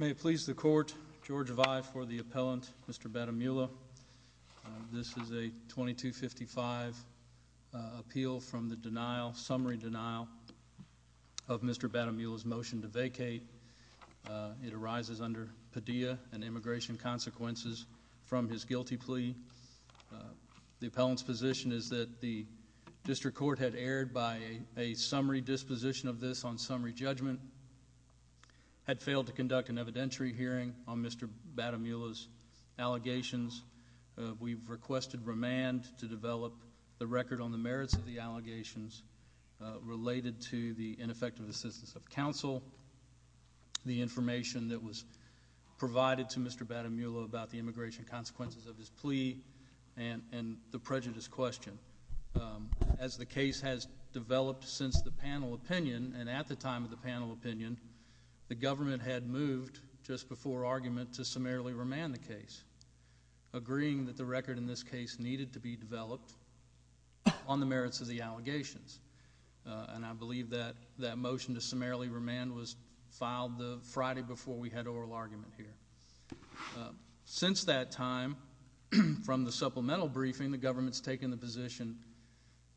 May it please the court, George Vi for the appellant, Mr. Batamula. This is a 2255 appeal from the summary denial of Mr. Batamula's motion to vacate. It arises under Padilla and immigration consequences from his guilty plea. The appellant's position is that the district court had erred by a summary disposition of this on summary judgment, had failed to conduct an evidentiary hearing on Mr. Batamula's allegations. We've requested remand to develop the record on the merits of the allegations related to the ineffective assistance of counsel, the information that was provided to Mr. Batamula about the immigration consequences of his plea, and the prejudice question. As the case has developed since the panel opinion, and at the time of the panel opinion, the government had moved just before argument to summarily remand the case, agreeing that the record in this case needed to be developed on the merits of the allegations. And I believe that that motion to summarily remand was filed the Friday before we had oral argument here. Since that time, from the supplemental briefing, the government's taken the position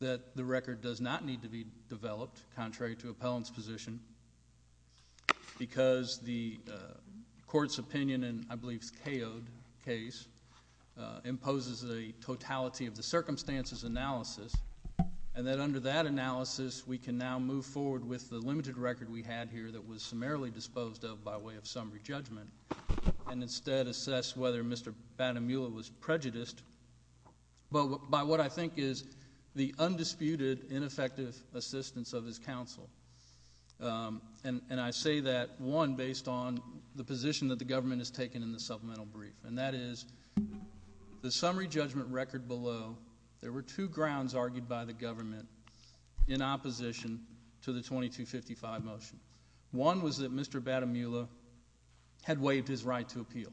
that the record does not need to be developed, contrary to appellant's position, because the court's opinion, and I believe KO'd case, imposes a totality of the circumstances analysis. And then under that analysis, we can now move forward with the limited record we had here that was summarily disposed of by way of summary judgment, and instead assess whether Mr. Batamula was prejudiced by what I think is the undisputed, ineffective assistance of his counsel. And I say that, one, based on the position that the government has taken in the supplemental brief. And that is, the summary judgment record below, there were two grounds argued by the government in opposition to the 2255 motion. One was that Mr. Batamula had waived his right to appeal.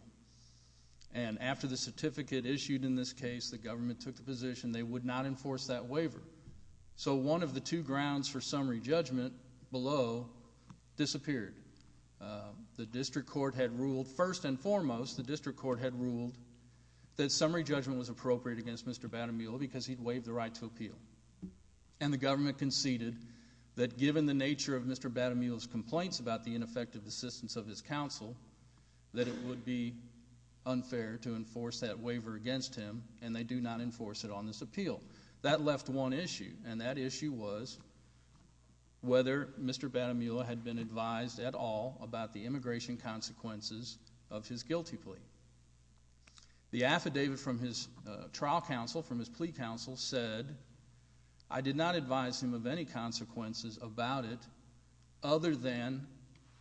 And after the certificate issued in this case, the government took a position they would not enforce that waiver. So one of the two grounds for summary judgment below disappeared. The district court had ruled, first and foremost, the district court had ruled that summary judgment was appropriate against Mr. Batamula because he'd waived the right to appeal. And the government conceded that given the nature of Mr. Batamula's complaints about the ineffective assistance of his counsel, that it would be unfair to enforce that waiver against him, and they do not enforce it on this appeal. That left one issue, and that issue was whether Mr. Batamula had been advised at all about the immigration consequences of his guilty plea. The affidavit from his trial counsel, from his plea counsel, said, I did not advise him of any consequences about it other than,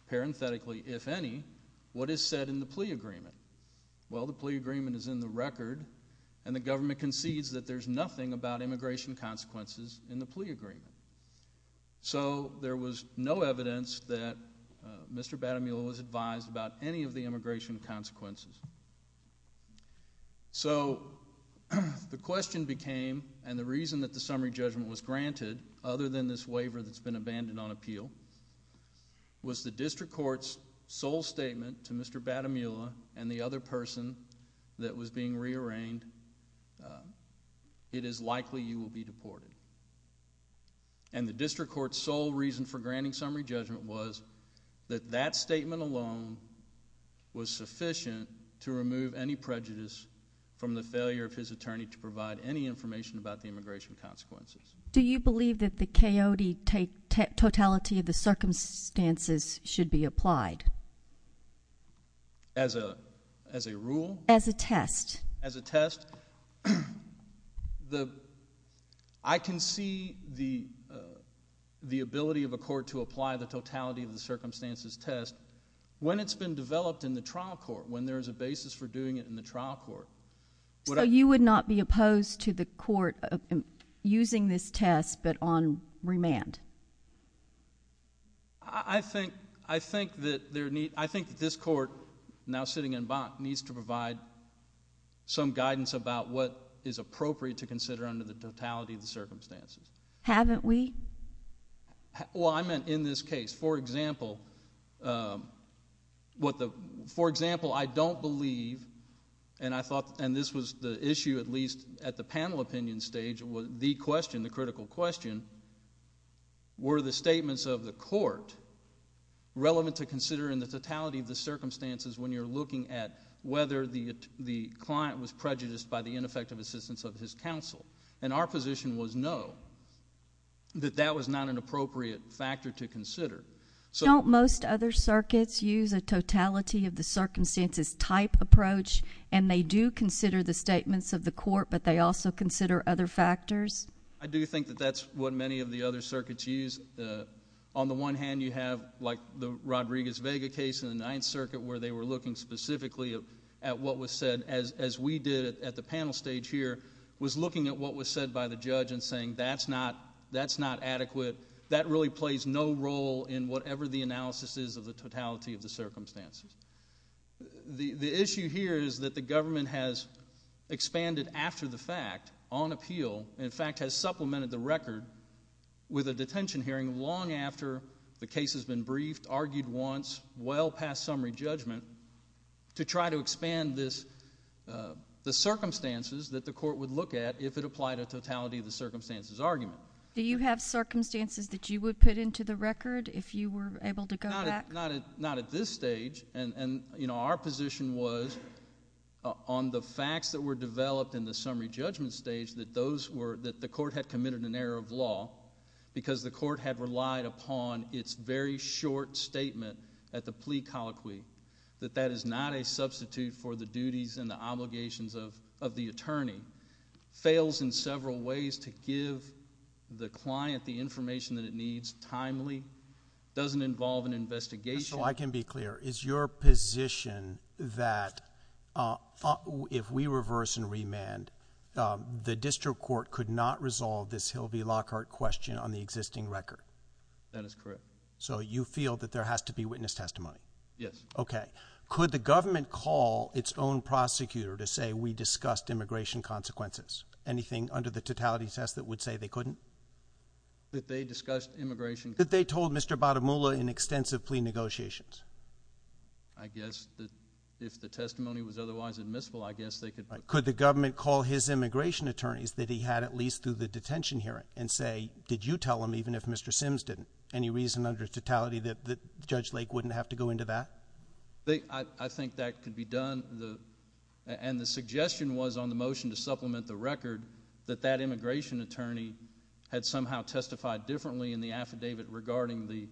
parenthetically, if any, what is said in the plea agreement. Well, the plea agreement is in the record, and the government concedes that there's nothing about immigration consequences in the plea agreement. So there was no evidence that Mr. Batamula was advised about any of the immigration consequences. So the question became, and the reason that the summary judgment was granted, other than this waiver that's been abandoned on appeal, was the district court's sole statement to Mr. Batamula and the other person that was being rearranged, it is likely you will be deported. And the district court's sole reason for granting summary judgment was that that statement alone was sufficient to remove any prejudice from the failure of his attorney to provide any information about the immigration consequences. Do you believe that the Coyote totality of the circumstances should be applied? As a rule? As a test. As a test? I can see the ability of a court to apply the totality of the circumstances test when it's been developed in the trial court, when there's a basis for doing it in the trial court. So you would not be opposed to the court using this test but on remand? I think that this court, now sitting in Vaught, needs to provide some guidance about what is appropriate to consider under the totality of the circumstances. Haven't we? Well, I meant in this case. For example, I don't believe, and this was the issue at least at the panel opinion stage, the question, the critical question, were the statements of the court relevant to consider in the totality of the circumstances when you're looking at whether the client was prejudiced by the ineffective assistance of his counsel. And our position was no. That that was not an appropriate factor to consider. Don't most other circuits use a totality of the circumstances type approach and they do consider the statements of the court but they also consider other factors? I do think that that's what many of the other circuits use. On the one hand, you have like the Rodriguez-Vega case in the Ninth Circuit where they were looking specifically at what was said, as we did at the panel stage here, was looking at what was said by the judge and saying that's not adequate. That really plays no role in whatever the analysis is of the totality of the circumstances. The issue here is that the government has expanded after the fact on appeal, in fact has supplemented the record with a detention hearing long after the case has been briefed, argued once, well past summary judgment, to try to expand the circumstances that the court would look at if it applied a totality of the circumstances argument. Do you have circumstances that you would put into the record if you were able to go back? Not at this stage. Our position was on the facts that were developed in the summary judgment stage that the court had committed an error of law because the court had relied upon its very short statement at the plea colloquy that that is not a substitute for the duties and the obligations of the attorney, fails in several ways to give the client the information that it needs timely, doesn't involve an investigation. So I can be clear. Is your position that if we reverse and remand, the district court could not resolve this Hill v. Lockhart question on the existing record? That is correct. So you feel that there has to be witness testimony? Yes. Okay. Could the government call its own prosecutor to say we discussed immigration consequences? Anything under the totality test that would say they couldn't? That they discussed immigration... That they told Mr. Batamula in extensive plea negotiations? I guess that if the testimony was otherwise admissible, I guess they could... Could the government call his immigration attorneys that he had at least through the detention hearing and say did you tell him even if Mr. Sims didn't? Any reason under totality that Judge Lake wouldn't have to go into that? I think that could be done. And the suggestion was on the motion to supplement the record that that immigration attorney had somehow testified differently in the affidavit regarding the...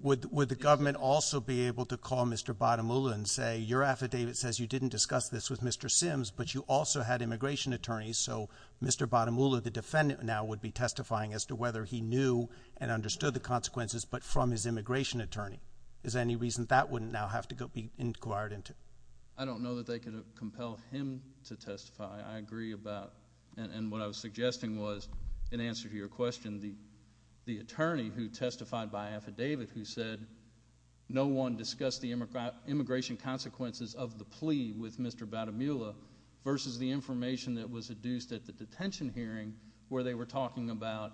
Would the government also be able to call Mr. Batamula and say your affidavit says you didn't discuss this with Mr. Sims but you also had immigration attorneys so Mr. Batamula, the defendant, now would be testifying as to whether he knew and understood the consequences but from his immigration attorney. Is there any reason that wouldn't now have to be inquired into? I don't know that they could have compelled him to testify. I agree about... And what I was suggesting was in answer to your question, the attorney who testified by affidavit who said no one discussed the immigration consequences of the plea with Mr. Batamula versus the information that was deduced at the detention hearing where they were talking about...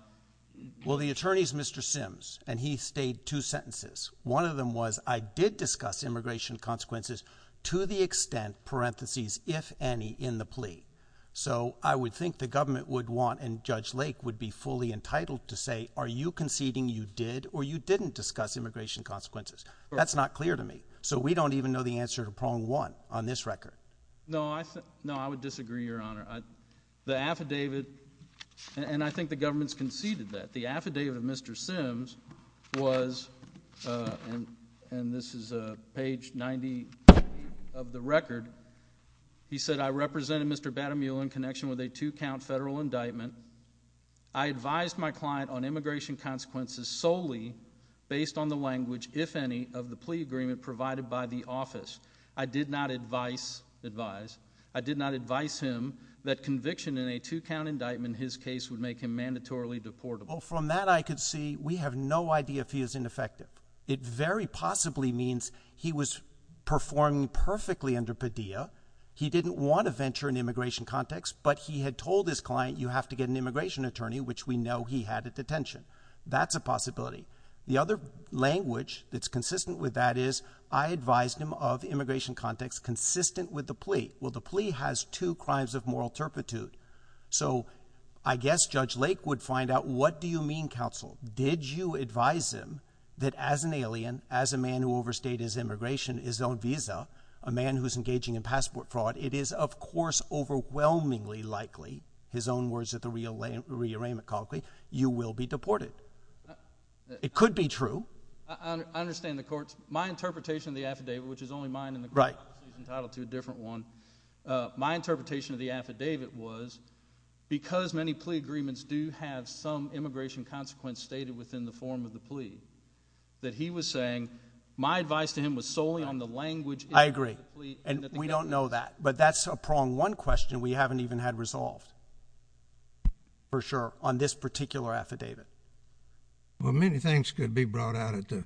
Well, the attorney is Mr. Sims and he stayed two sentences. One of them was I did discuss immigration consequences to the extent parentheses if any in the plea. So I would think the government would want and Judge Lake would be fully entitled to say are you conceding you did or you didn't discuss immigration consequences? That's not clear to me. So we don't even know the answer to prong one on this record. No, I would disagree, Your Honor. The affidavit... And I think the government's conceded that. The affidavit of Mr. Sims was... And this is page 90 of the record. He said I represented Mr. Batamula in connection with a two-count federal indictment. I advised my client on immigration consequences solely based on the language, if any, of the plea agreement provided by the office. I did not advise him that conviction in a two-count indictment in his case would make him mandatorily deportable. Well, from that I could see we have no idea if he is ineffective. It very possibly means he was performing perfectly under Padilla. He didn't want to venture in the immigration context, but he had told his client you have to get an immigration attorney, which we know he had at detention. That's a possibility. The other language that's consistent with that is I advised him of immigration context consistent with the plea. Well, the plea has two crimes of moral turpitude. So I guess Judge Lake would find out what do you mean, counsel? Did you advise him that as an alien, as a man who overstayed his immigration, his own visa, a man who's engaging in passport fraud, that it is, of course, overwhelmingly likely, his own words at the re-arraignment conference, you will be deported? It could be true. I understand the court. My interpretation of the affidavit, which is only mine and the court's entitled to a different one, my interpretation of the affidavit was because many plea agreements do have some immigration consequence stated within the form of the plea, that he was saying my advice to him was solely on the language in the plea. And we don't know that, but that's a prong. One question we haven't even had resolved, for sure, on this particular affidavit. Well, many things could be brought out at the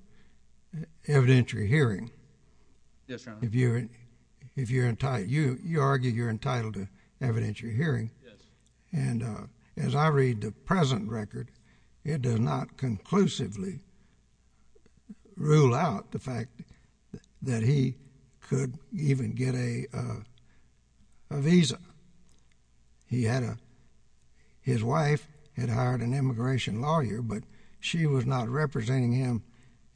evidentiary hearing. Yes, Your Honor. You argue you're entitled to evidentiary hearing. And as I read the present record, it does not conclusively rule out the fact that he could even get a visa. He had a, his wife had hired an immigration lawyer, but she was not representing him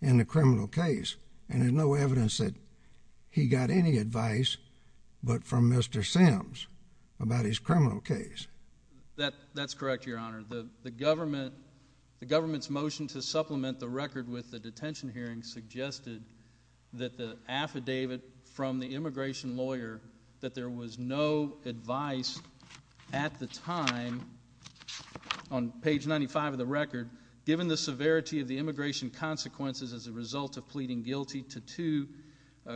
in the criminal case. And there's no evidence that he got any advice but from Mr. Sims about his criminal case. That's correct, Your Honor. The government's motion to supplement the record with the detention hearing suggested that the affidavit from the immigration lawyer, that there was no advice at the time, on page 95 of the record, given the severity of the immigration consequences as a result of pleading guilty to two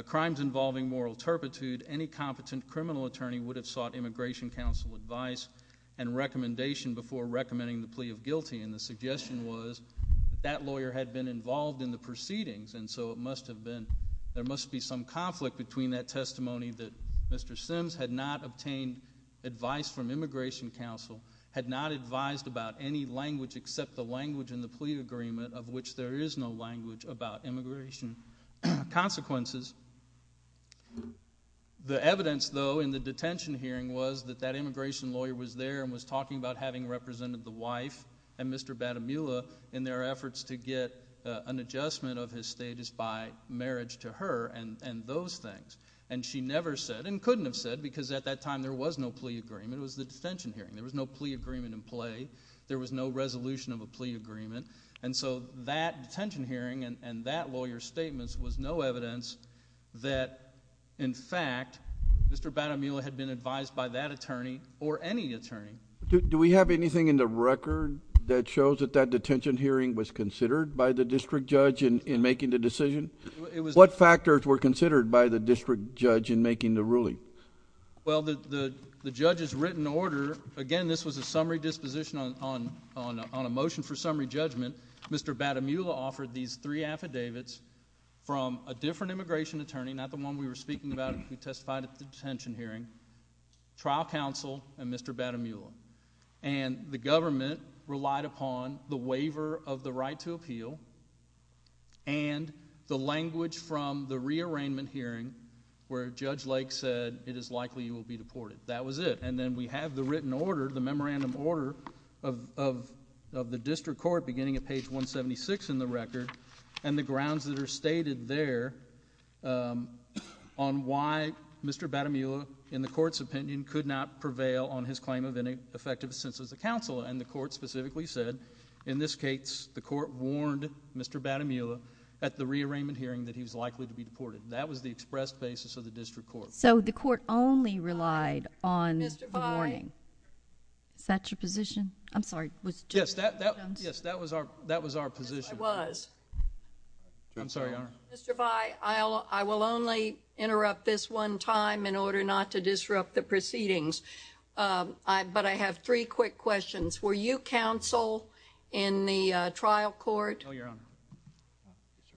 crimes involving moral turpitude, any competent criminal attorney would have sought Immigration Counsel advice and recommendation before recommending the plea of guilty. And the suggestion was that that lawyer had been involved in the proceedings, and so it must have been, there must be some conflict between that testimony that Mr. Sims had not obtained advice from Immigration Counsel, had not advised about any language except the language in the plea agreement, of which there is no language about immigration consequences. The evidence, though, in the detention hearing was that that immigration lawyer was there and was talking about having represented the wife and Mr. Batamula in their efforts to get an adjustment of his status by marriage to her and those things. And she never said, and couldn't have said, because at that time there was no plea agreement, it was the detention hearing, there was no plea agreement in play, there was no resolution of a plea agreement, and so that detention hearing and that lawyer's statements was no evidence that, in fact, Mr. Batamula had been advised by that attorney or any attorney. Do we have anything in the record that shows that that detention hearing was considered by the district judge in making the decision? What factors were considered by the district judge in making the ruling? Well, the judge's written order, again, this was a summary disposition on a motion for summary judgment. Mr. Batamula offered these three affidavits from a different immigration attorney, not the one we were speaking about when we testified at the detention hearing, trial counsel and Mr. Batamula. And the government relied upon the waiver of the right to appeal and the language from the rearrangement hearing where Judge Lake said, it is likely you will be deported. That was it. And then we have the written order, the memorandum order of the district court, beginning at page 176 in the record, and the grounds that are stated there on why Mr. Batamula, in the court's opinion, could not prevail on his claim of ineffective assent to the counsel. And the court specifically said, in this case, the court warned Mr. Batamula at the rearrangement hearing that he was likely to be deported. That was the express basis of the district court. So the court only relied on the warning. Is that your position? I'm sorry. Yes, that was our position. Yes, it was. I'm sorry, Your Honor. Mr. By, I will only interrupt this one time in order not to disrupt the proceedings. But I have three quick questions. Were you counsel in the trial court? No, Your Honor.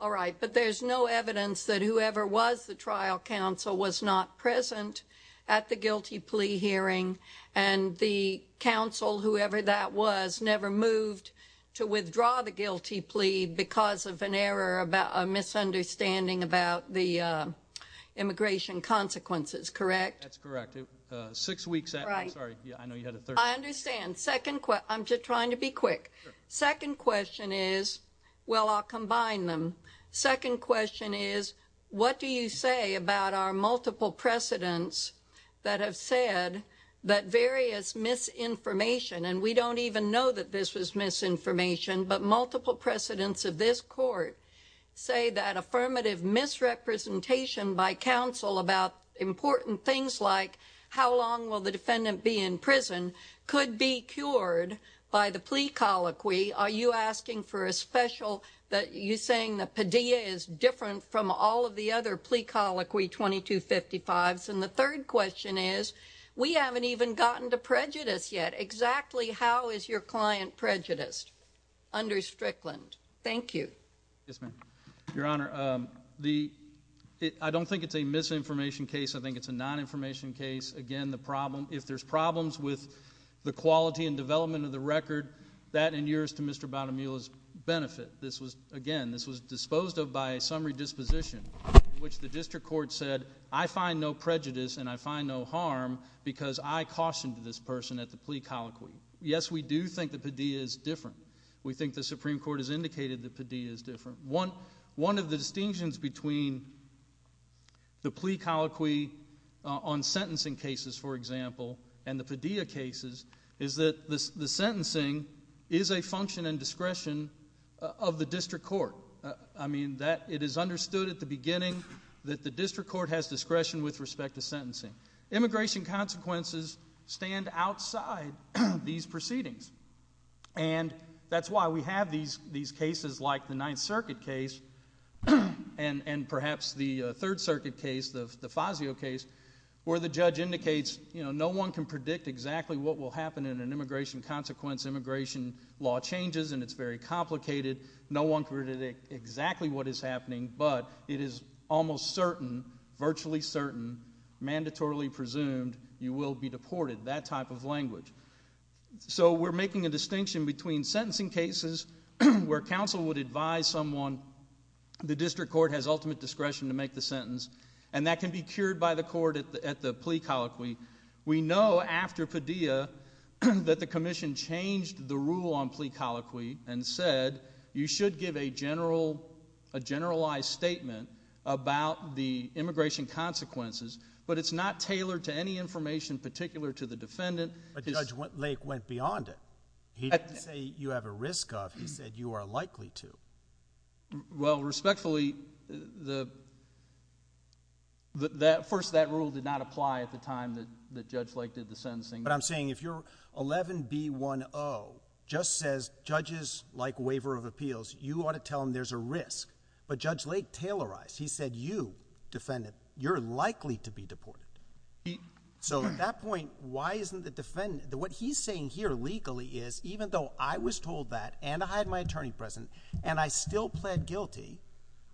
All right. But there's no evidence that whoever was the trial counsel was not present at the guilty plea hearing. And the counsel, whoever that was, never moved to withdraw the guilty plea because of an error, a misunderstanding about the immigration consequences. Correct? That's correct. Six weeks after. I'm sorry. I know you had a third one. I understand. I'm just trying to be quick. Second question is, well, I'll combine them. Second question is, what do you say about our multiple precedents that have said that various misinformation, and we don't even know that this is misinformation, but multiple precedents of this court say that affirmative misrepresentation by counsel about important things like how long will the defendant be in prison could be cured by the plea colloquy? Are you asking for a special that you're saying that Padilla is different from all of the other plea colloquy 2255s? And the third question is, we haven't even gotten to prejudice yet. Exactly how is your client prejudiced under Strickland? Thank you. Yes, ma'am. Your Honor, I don't think it's a misinformation case. I think it's a non-information case. Again, if there's problems with the quality and development of the record, that endures to Mr. Batamula's benefit. Again, this was disposed of by summary disposition, which the district court said, I find no prejudice and I find no harm because I cautioned this person at the plea colloquy. Yes, we do think that Padilla is different. We think the Supreme Court has indicated that Padilla is different. One of the distinctions between the plea colloquy on sentencing cases, for example, and the Padilla cases is that the sentencing is a function and discretion of the district court. I mean, it is understood at the beginning that the district court has discretion with respect to sentencing. Immigration consequences stand outside these proceedings, and that's why we have these cases like the Ninth Circuit case and perhaps the Third Circuit case, the Fazio case, where the judge indicates no one can predict exactly what will happen in an immigration consequence. Immigration law changes and it's very complicated. No one can predict exactly what is happening, but it is almost certain, virtually certain, mandatorily presumed you will be deported, that type of language. So we're making a distinction between sentencing cases where counsel would advise someone, the district court has ultimate discretion to make the sentence, and that can be cured by the court at the plea colloquy. We know after Padilla that the commission changed the rule on plea colloquy and said you should give a generalized statement about the immigration consequences, but it's not tailored to any information particular to the defendant. But Judge Lake went beyond it. He didn't say you have a risk of, he said you are likely to. Well, respectfully, first that rule did not apply at the time that Judge Lake did the sentencing. But I'm saying if your 11B10 just says judges like waiver of appeals, you ought to tell them there's a risk. But Judge Lake tailorized. He said you, defendant, you're likely to be deported. So at that point, why isn't the defendant, what he's saying here legally is even though I was told that and I had my attorney present and I still pled guilty,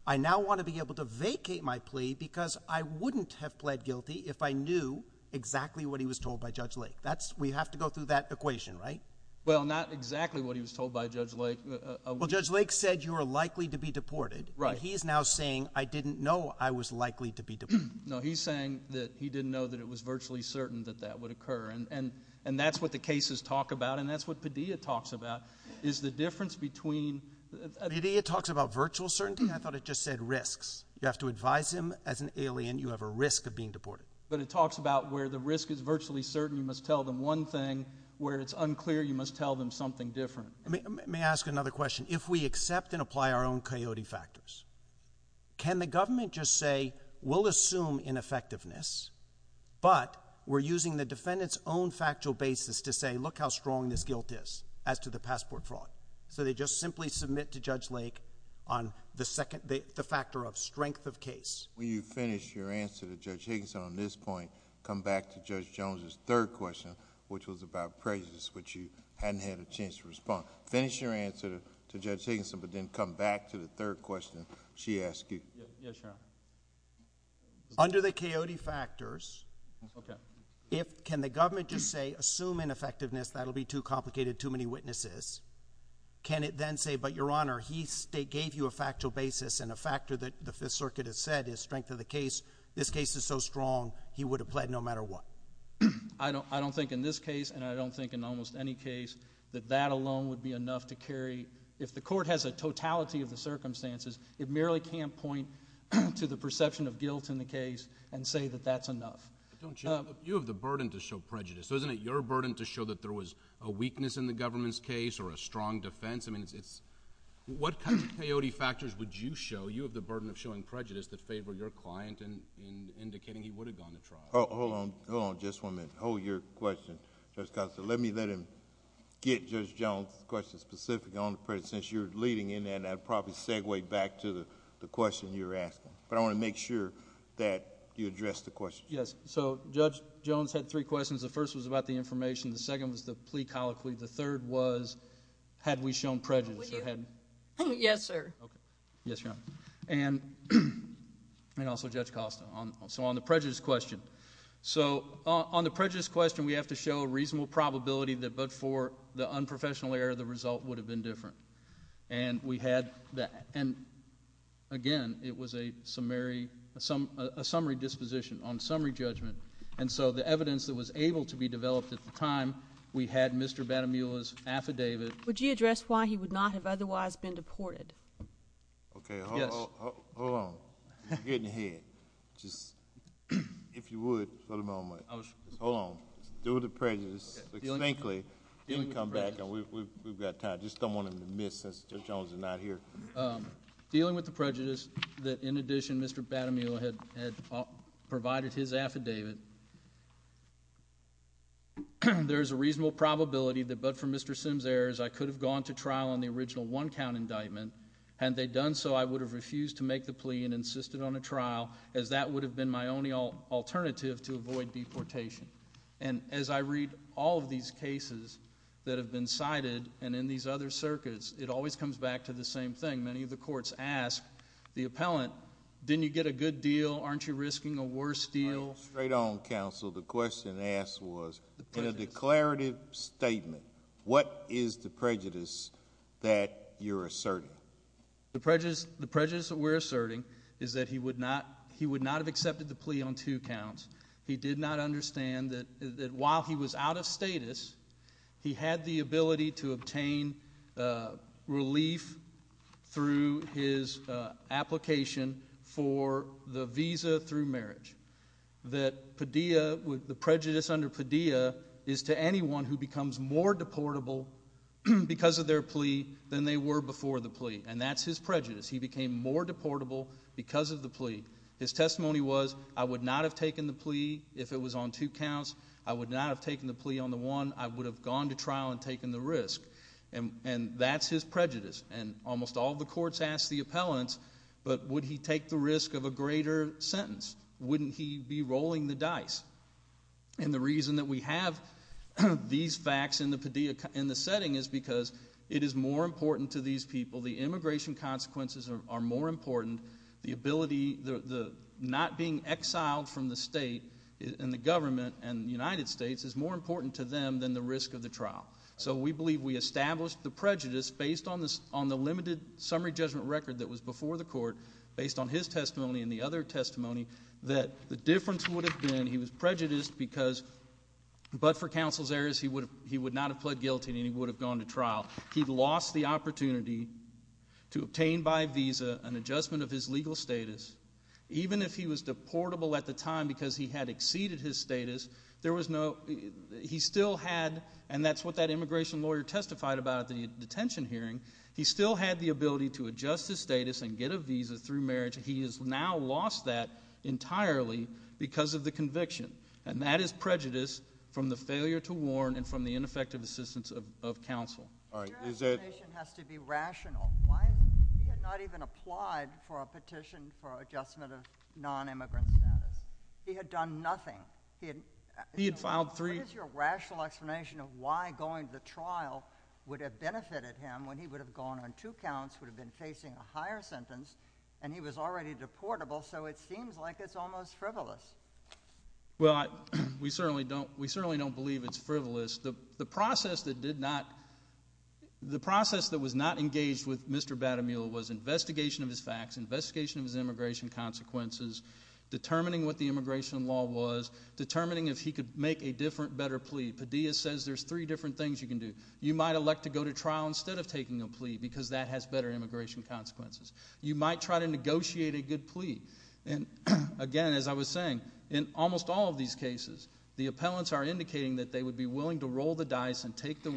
I now want to be able to vacate my plea because I wouldn't have pled guilty if I knew exactly what he was told by Judge Lake. We have to go through that equation, right? Well, not exactly what he was told by Judge Lake. Well, Judge Lake said you are likely to be deported. Right. But he is now saying I didn't know I was likely to be deported. No, he's saying that he didn't know that it was virtually certain that that would occur, and that's what the cases talk about and that's what Padilla talks about is the difference between... Padilla talks about virtual certainty? I thought it just said risks. You have to advise him as an alien, you have a risk of being deported. But it talks about where the risk is virtually certain, you must tell them one thing, where it's unclear, you must tell them something different. Let me ask another question. If we accept and apply our own coyote factors, can the government just say we'll assume ineffectiveness, but we're using the defendant's own factual basis to say look how strong this guilt is as to the passport fraud? So they just simply submit to Judge Lake on the factor of strength of case. When you finish your answer to Judge Higginson on this point, come back to Judge Jones's third question, which was about prejudice, which you hadn't had a chance to respond. Finish your answer to Judge Higginson, but then come back to the third question she asked you. Yes, Your Honor. Under the coyote factors, can the government just say assume ineffectiveness, that will be too complicated, too many witnesses. Can it then say, but Your Honor, he gave you a factual basis and a factor that the Fifth Circuit has said is strength of the case, this case is so strong he would have pled no matter what. I don't think in this case and I don't think in almost any case that that alone would be enough to carry. If the court has a totality of the circumstances, it merely can't point to the perception of guilt in the case and say that that's enough. You have the burden to show prejudice, so isn't it your burden to show that there was a weakness in the government's case or a strong defense? What kind of coyote factors would you show? You have the burden of showing prejudice to favor your client and indicating he would have gone to trial. Hold on just one minute. Hold your question, Judge Thompson. Let me let him get Judge Jones's question specifically on the prejudice. Since you're leading in that, I'll probably segue back to the question you're asking. But I want to make sure that you address the question. Yes. So Judge Jones had three questions. The first was about the information. The second was the plea colloquy. The third was had we shown prejudice or hadn't. Yes, sir. Yes, ma'am. And also Judge Costa, so on the prejudice question. So on the prejudice question, we have to show a reasonable probability that but for the unprofessional error, the result would have been different. And we had that. And, again, it was a summary disposition on summary judgment. And so the evidence that was able to be developed at the time, we had Mr. Batamula's affidavit. Would you address why he would not have otherwise been deported? Okay. Yes. Hold on. You're getting ahead. If you would for the moment. Hold on. Deal with the prejudice. But frankly, you can come back and we've got time. Just don't want him to miss that Judge Jones is not here. Dealing with the prejudice that, in addition, Mr. Batamula had provided his affidavit, there's a reasonable probability that but for Mr. Sims' errors, I could have gone to trial on the original one-count indictment. Had they done so, I would have refused to make the plea and insisted on a trial as that would have been my only alternative to avoid deportation. And as I read all of these cases that have been cited and in these other circuits, it always comes back to the same thing. Many of the courts ask the appellant, didn't you get a good deal? Aren't you risking a worse deal? Right on, counsel. The question asked was, in a declarative statement, what is the prejudice that you're asserting? The prejudice that we're asserting is that he would not have accepted the plea on two counts. He did not understand that while he was out of status, he had the ability to obtain relief through his application for the visa through marriage. The prejudice under Padilla is to anyone who becomes more deportable because of their plea than they were before the plea, and that's his prejudice. He became more deportable because of the plea. His testimony was, I would not have taken the plea if it was on two counts. I would not have taken the plea on the one. I would have gone to trial and taken the risk. And that's his prejudice. And almost all the courts ask the appellant, but would he take the risk of a greater sentence? Wouldn't he be rolling the dice? And the reason that we have these facts in the setting is because it is more important to these people. The immigration consequences are more important. The ability, not being exiled from the state and the government and the United States is more important to them than the risk of the trial. So we believe we established the prejudice based on the limited summary judgment record that was before the court, based on his testimony and the other testimony, that the difference would have been he was prejudiced because but for counsel's errors, he would not have pled guilty and he would have gone to trial. He lost the opportunity to obtain by visa an adjustment of his legal status. Even if he was deportable at the time because he had exceeded his status, he still had, and that's what that immigration lawyer testified about at the detention hearing, he still had the ability to adjust his status and get a visa through marriage. He has now lost that entirely because of the conviction. And that is prejudice from the failure to warn and from the ineffective assistance of counsel. Your explanation has to be rational. He had not even applied for a petition for adjustment of non-immigrant status. He had done nothing. He had filed three. What is your rational explanation of why going to trial would have benefited him when he would have gone on two counts, would have been facing a higher sentence, and he was already deportable, so it seems like it's almost frivolous. Well, we certainly don't believe it's frivolous. The process that did not, the process that was not engaged with Mr. Batemula was investigation of his facts, investigation of his immigration consequences, determining what the immigration law was, determining if he could make a different, better plea. Padilla says there's three different things you can do. You might elect to go to trial instead of taking a plea because that has better immigration consequences. You might try to negotiate a good plea. And, again, as I was saying, in almost all of these cases, the appellants are indicating that they would be willing to roll the dice and take the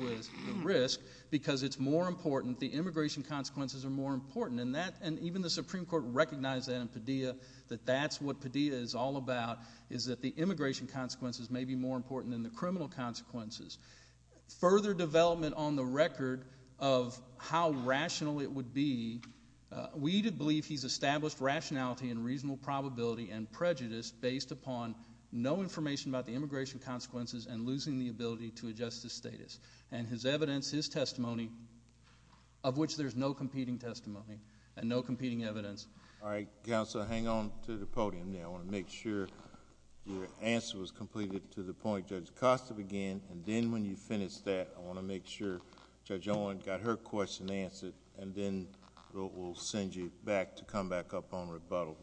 risk because it's more important, the immigration consequences are more important, and even the Supreme Court recognized that in Padilla, that that's what Padilla is all about, is that the immigration consequences may be more important than the criminal consequences. Further development on the record of how rational it would be, we believe he's established rationality and reasonable probability and prejudice based upon no information about the immigration consequences and losing the ability to adjust the status and his evidence, his testimony, of which there's no competing testimony and no competing evidence. All right, counsel, hang on to the podium there. I want to make sure your answer was completed to the point Judge Costa began, and then when you finish that, I want to make sure Judge Owen got her question answered, and then we'll send you back to come back up on rebuttal.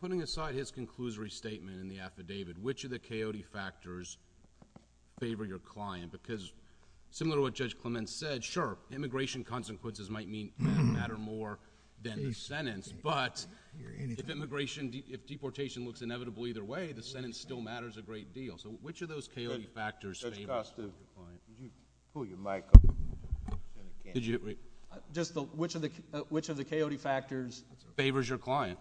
Putting aside his conclusory statement in the affidavit, which of the coyote factors favor your client? Because similar to what Judge Clement said, sure, immigration consequences might matter more than the sentence, but if deportation looks inevitable either way, the sentence still matters a great deal. So which of those coyote factors favor your client? Pull your mic up. Just which of the coyote factors favors your client?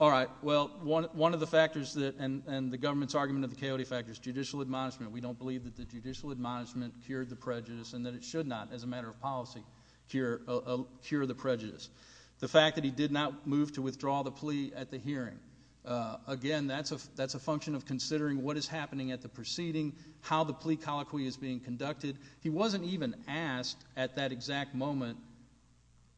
All right, well, one of the factors and the government's argument of the coyote factors, judicial admonishment. We don't believe that the judicial admonishment cured the prejudice and that it should not as a matter of policy cure the prejudice. The fact that he did not move to withdraw the plea at the hearing, again, that's a function of considering what is happening at the proceeding, how the plea colloquy is being conducted. He wasn't even asked at that exact moment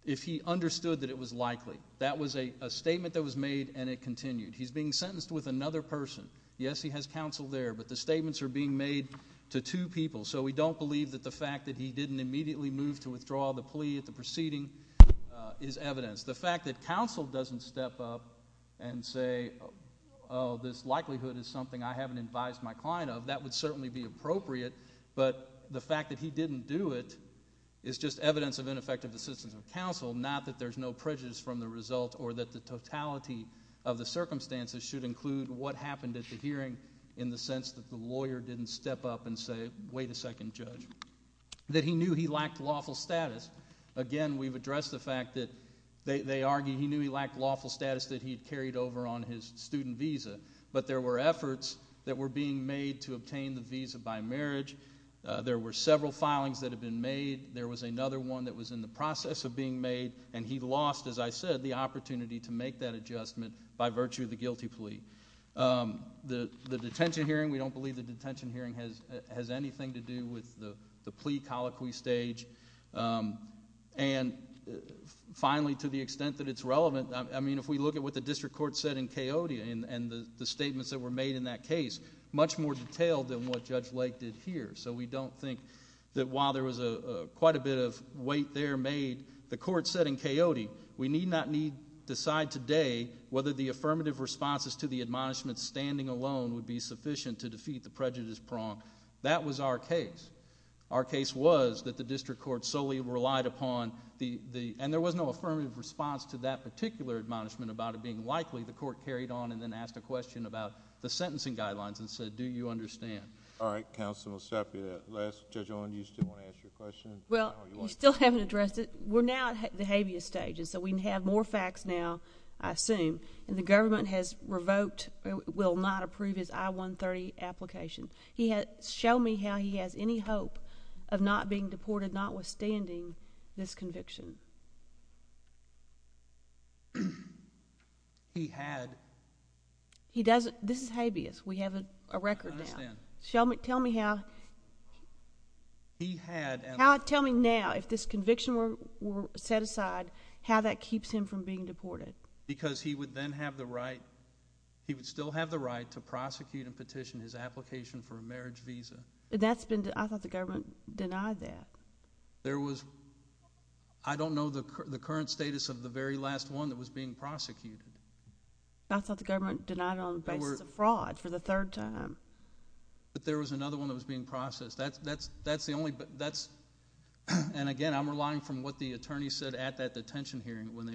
if he understood that it was likely. That was a statement that was made and it continued. He's being sentenced with another person. Yes, he has counsel there, but the statements are being made to two people, so we don't believe that the fact that he didn't immediately move to withdraw the plea at the proceeding is evidence. The fact that counsel doesn't step up and say, oh, this likelihood is something I haven't advised my client of, that would certainly be appropriate, but the fact that he didn't do it is just evidence of ineffective assistance of counsel, not that there's no prejudice from the result or that the totality of the circumstances should include what happened at the hearing in the sense that the lawyer didn't step up and say, wait a second, Judge, that he knew he lacked lawful status. Again, we've addressed the fact that they argue he knew he lacked lawful status that he carried over on his student visa, but there were efforts that were being made to obtain the visa by marriage. There were several filings that had been made. There was another one that was in the process of being made, and he lost, as I said, the opportunity to make that adjustment by virtue of the guilty plea. The detention hearing, we don't believe the detention hearing has anything to do with the plea colloquy stage. And finally, to the extent that it's relevant, I mean, if we look at what the district court said in Coyote and the statements that were made in that case, much more detailed than what Judge Lake did here. So we don't think that while there was quite a bit of weight there made, the court said in Coyote, we need not decide today whether the affirmative responses to the admonishment standing alone would be sufficient to defeat the prejudice prong. That was our case. Our case was that the district court solely relied upon the and there was no affirmative response to that particular admonishment about it being likely. The court carried on and then asked a question about the sentencing guidelines and said, do you understand? All right, Counsel, we'll stop you there. Judge Owen, do you still want to ask your question? Well, we still haven't addressed it. We're now at the habeas stage, and so we have more facts now, I assume, and the government has revoked or will not approve his I-130 application. Show me how he has any hope of not being deported, notwithstanding this conviction. He had. This is habeas. We have a record now. Tell me how. He had. Tell me now if this conviction were set aside, how that keeps him from being deported. Because he would then have the right, he would still have the right to prosecute and petition his application for a marriage visa. That's been, I thought the government denied that. There was, I don't know the current status of the very last one that was being prosecuted. I thought the government denied it on the basis of fraud for the third time. But there was another one that was being processed. That's the only, that's, and again, I'm relying from what the attorney said at that detention hearing when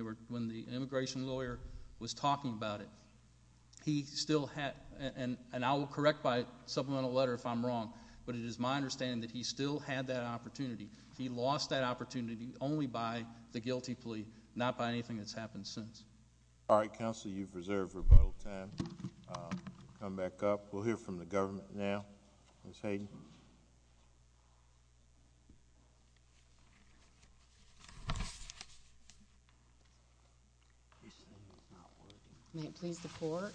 the immigration lawyer was talking about it. He still had, and I will correct by supplemental letter if I'm wrong, but it is my understanding that he still had that opportunity. He lost that opportunity only by the guilty plea, not by anything that's happened since. All right, counsel, you've reserved your vote. Come back up. Ms. Hayden. Can you please report?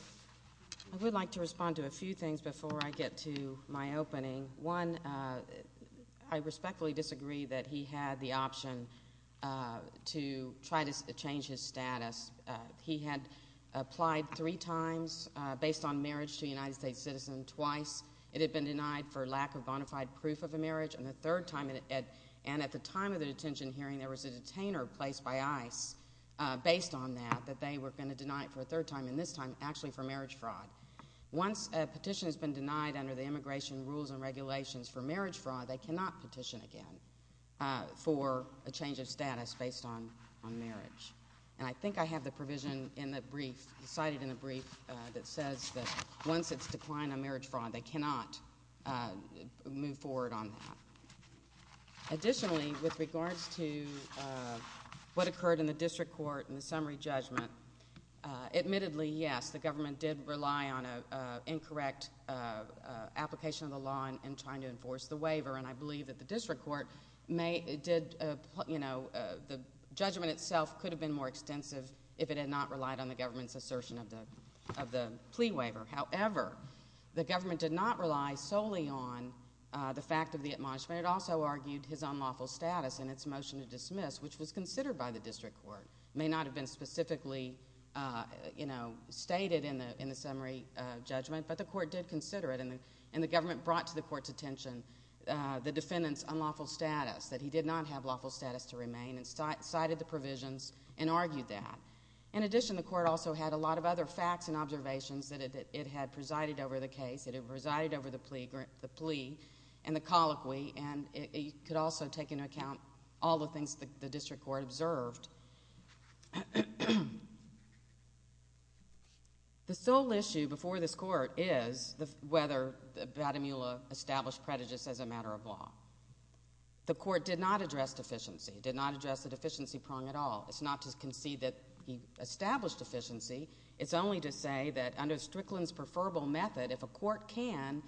I would like to respond to a few things before I get to my opening. One, I respectfully disagree that he had the option to try to change his status. He had applied three times based on marriage to a United States citizen, twice. It had been denied for lack of bona fide proof of the marriage, and the third time, and at the time of the detention hearing there was a detainer placed by ICE based on that, that they were going to deny it for a third time, and this time actually for marriage fraud. Once a petition has been denied under the immigration rules and regulations for marriage fraud, they cannot petition again for a change of status based on marriage. And I think I have the provision in the brief, cited in the brief, that says that once it's declined on marriage fraud, they cannot move forward on that. Additionally, with regards to what occurred in the district court in the summary judgment, admittedly, yes, the government did rely on an incorrect application of the law in trying to enforce the waiver, and I believe that the district court did, you know, the judgment itself could have been more extensive if it had not relied on the government's assertion of the plea waiver. However, the government did not rely solely on the fact of the admonishment. It also argued his unlawful status in his motion to dismiss, which was considered by the district court. It may not have been specifically, you know, stated in the summary judgment, but the court did consider it, and the government brought to the court's attention the defendant's unlawful status, that he did not have lawful status to remain, and cited the provision and argued that. In addition, the court also had a lot of other facts and observations that it had presided over the case, that it presided over the plea and the colloquy, and it could also take into account all the things that the district court observed. The sole issue before this court is whether Vatimula established prejudice as a matter of law. The court did not address deficiency, did not address the deficiency prong at all. It's not to concede that he established deficiency. It's only to say that under Strickland's preferable method, if a court can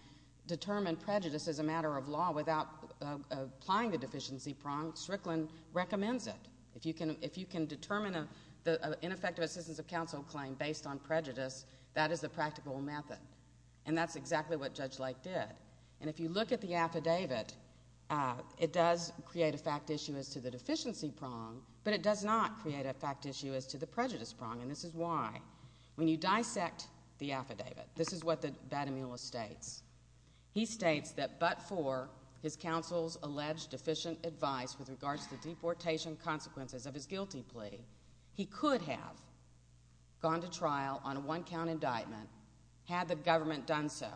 determine prejudice as a matter of law without applying the deficiency prong, Strickland recommends it. If you can determine an ineffective assistance of counsel claim based on prejudice, that is a practical method, and that's exactly what Judge Light did. And if you look at the affidavit, it does create a fact issue as to the deficiency prong, but it does not create a fact issue as to the prejudice prong, and this is why. When you dissect the affidavit, this is what Vatimula states. He states that but for his counsel's alleged deficient advice with regards to deportation consequences of his guilty plea, he could have gone to trial on a one-count indictment had the government done so,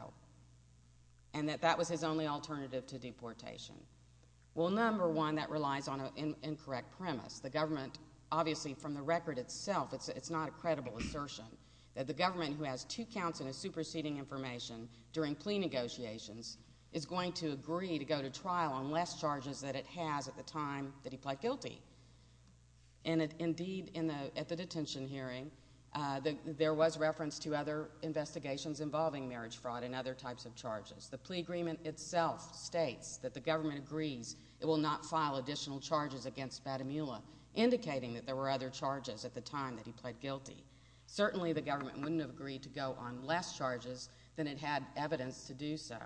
and that that was his only alternative to deportation. Well, number one, that relies on an incorrect premise. The government, obviously, from the record itself, it's not a credible assertion. The government who has two counts of superseding information during plea negotiations is going to agree to go to trial on less charges than it had at the time that he pled guilty. And, indeed, at the detention hearing, there was reference to other investigations involving marriage fraud and other types of charges. The plea agreement itself states that the government agrees it will not file additional charges against Vatimula, indicating that there were other charges at the time that he pled guilty. Certainly, the government wouldn't have agreed to go on less charges than it had evidence to do so.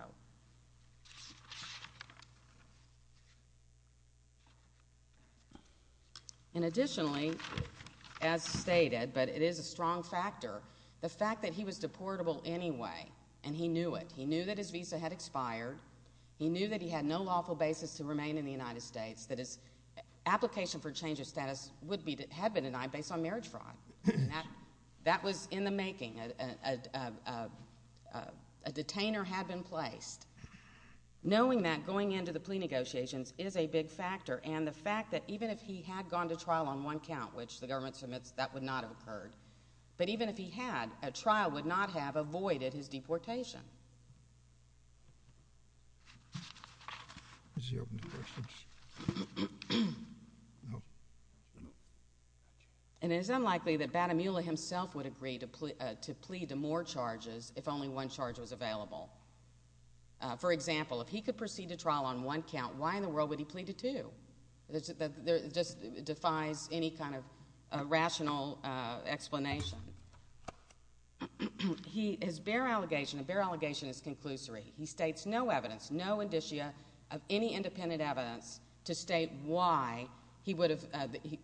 And, additionally, as stated, but it is a strong factor, the fact that he was deportable anyway, and he knew it. He knew that his visa had expired. He knew that he had no lawful basis to remain in the United States, that his application for change of status would be, had been denied based on marriage fraud. That was in the making. A detainer had been placed. Knowing that going into the plea negotiations is a big factor, and the fact that even if he had gone to trial on one count, which the government said that would not have occurred, that even if he had, a trial would not have avoided his deportation. And it is unlikely that Vatimula himself would agree to plead to more charges if only one charge was available. For example, if he could proceed to trial on one count, why in the world would he plead to two? This just defies any kind of rational explanation. His bare allegation, a bare allegation, is that Vatimula, He states no evidence, no indicia of any independent evidence, to state why he would have,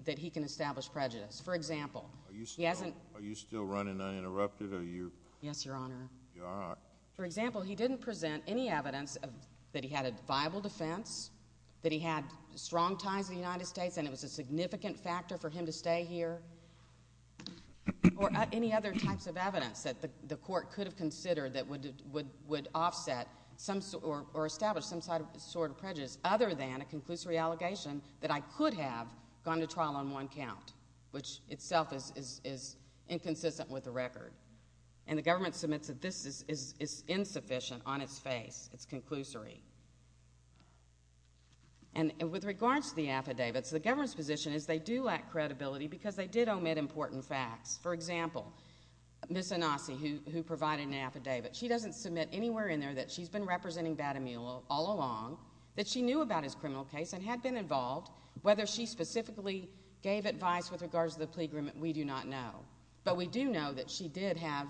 that he can establish prejudice. For example, he hasn't. Are you still running uninterrupted, or are you? Yes, Your Honor. You're all right. For example, he didn't present any evidence that he had a viable defense, that he had strong ties in the United States, and it was a significant factor for him to stay here. Or any other types of evidence that the court could have considered that would offset or establish some sort of prejudice, other than a conclusory allegation that I could have gone to trial on one count, which itself is inconsistent with the record. And the government submits that this is insufficient on its face. It's conclusory. And with regard to the affidavits, the government's position is they do lack credibility because they did omit important facts. For example, Ms. Anaki, who provided an affidavit, she doesn't submit anywhere in there that she's been representing Vatimula all along, that she knew about his criminal case and had been involved. Whether she specifically gave advice with regards to the plea agreement, we do not know. But we do know that she did have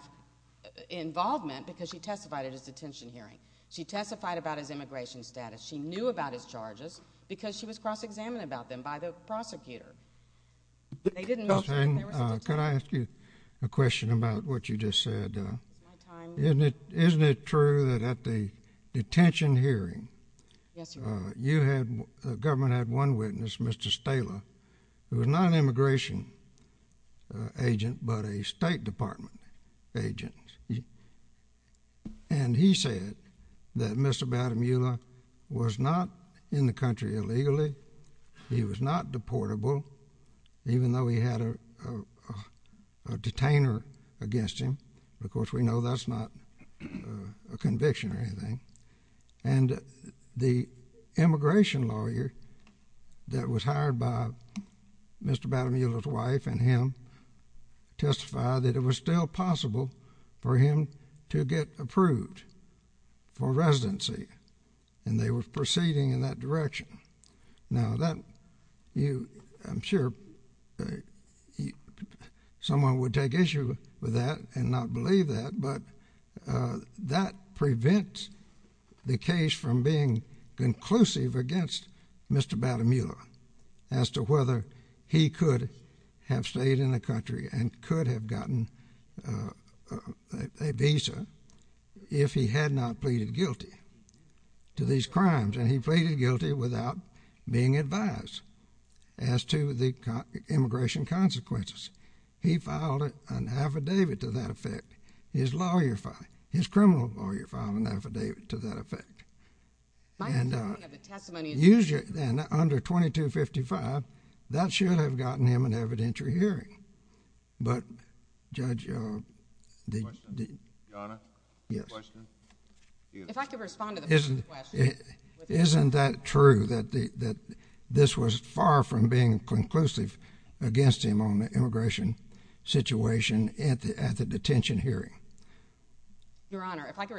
involvement because she testified at his detention hearing. She testified about his immigration status. She knew about his charges because she was cross-examined about them by the prosecutor. They didn't know... Can I ask you a question about what you just said? Isn't it true that at the detention hearing, the government had one witness, Mr. Stahler, who was not an immigration agent but a State Department agent. And he said that Mr. Vatimula was not in the country illegally. He was not deportable, even though he had a detainer against him. Of course, we know that's not a conviction or anything. And the immigration lawyer that was hired by Mr. Vatimula's wife and him testified that it was still possible for him to get approved for residency, and they were proceeding in that direction. Now, I'm sure someone would take issue with that and not believe that, but that prevents the case from being conclusive against Mr. Vatimula as to whether he could have stayed in the country and could have gotten a visa if he had not pleaded guilty to these crimes. And he pleaded guilty without being advised as to the immigration consequences. He filed an affidavit to that effect. His lawyer filed, his criminal lawyer filed an affidavit to that effect. And under 2255, that should have gotten him an evidentiary hearing. Isn't that true, that this was far from being conclusive against him on the immigration situation at the detention hearing? My understanding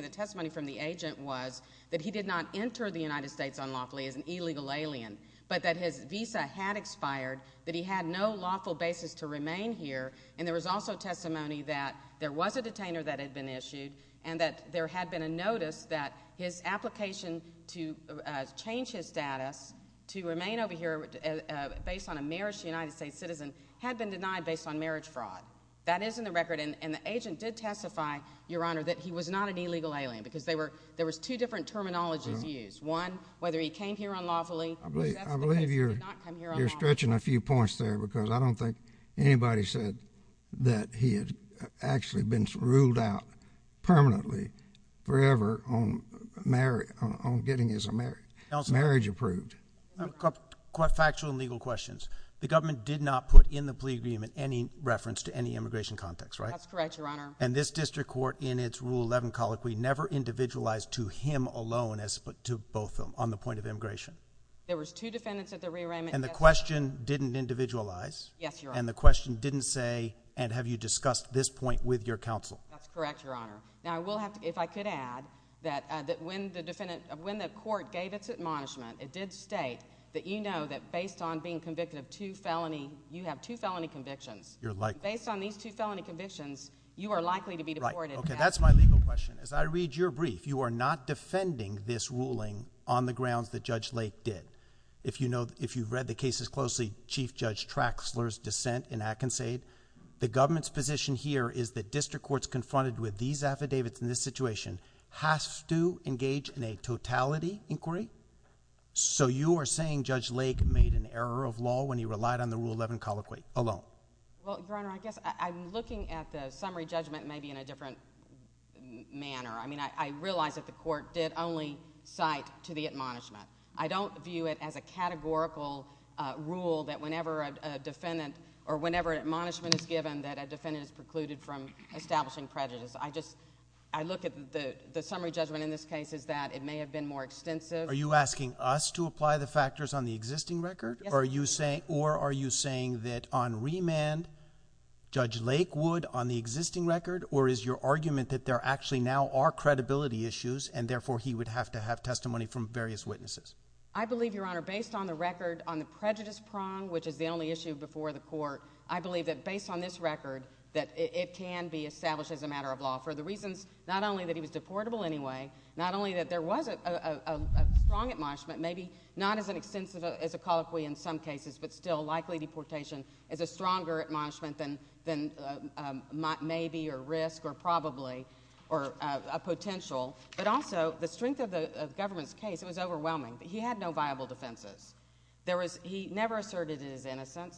of the testimony from the agent was that he did not enter the United States unlawfully as an illegal alien, but that his visa had expired, that he had no lawful basis to remain here, and there was also testimony that there was a detainer that had been issued and that there had been a notice that his application to change his status to remain over here based on a marriage to a United States citizen had been denied based on marriage fraud. That is in the record, and the agent did testify, Your Honor, that he was not an illegal alien because there was two different terminologies used. One, whether he came here unlawfully. I believe you're stretching a few points there because I don't think anybody said that he had actually been ruled out permanently forever on getting his marriage approved. A couple of factual and legal questions. The government did not put in the plea agreement any reference to any immigration context, right? That's correct, Your Honor. And this district court, in its Rule 11 colloquy, never individualized to him alone as to both of them on the point of immigration? There was two defendants at the rearrangement. And the question didn't individualize? Yes, Your Honor. And the question didn't say, and have you discussed this point with your counsel? That's correct, Your Honor. Now, if I could add that when the court gave its admonishment, it did state that you know that based on being convicted of two felony, you have two felony convictions. You're likely. Based on these two felony convictions, you are likely to be deported. Right. Okay, that's my legal question. As I read your brief, you are not defending this ruling on the grounds that Judge Lake did. If you know, if you've read the cases closely, Chief Judge Traxler's dissent in Atkinson, the government's position here is that district courts confronted with these affidavits in this situation has to engage in a totality inquiry. So you are saying Judge Lake made an error of law when he relied on the Rule 11 colloquy alone? Well, Your Honor, I guess I'm looking at the summary judgment maybe in a different manner. I mean, I realize that the court did only cite to the admonishment. I don't view it as a categorical rule that whenever a defendant or whenever an admonishment is given, that a defendant is precluded from establishing prejudice. I just, I look at the summary judgment in this case as that it may have been more extensive. Are you asking us to apply the factors on the existing record? Yes. Or are you saying that on remand, Judge Lake would on the existing record, or is your argument that there actually now are credibility issues and therefore he would have to have testimony from various witnesses? I believe, Your Honor, based on the record on the prejudice prong, which is the only issue before the court, I believe that based on this record that it can be established as a matter of law for the reasons not only that he was deportable anyway, not only that there was a prong admonishment, maybe not as extensive as a colloquy in some cases, but still likely deportation is a stronger admonishment than may be or risk or probably or a potential, but also the strength of the government's case was overwhelming. He had no viable defenses. He never asserted that he was innocent.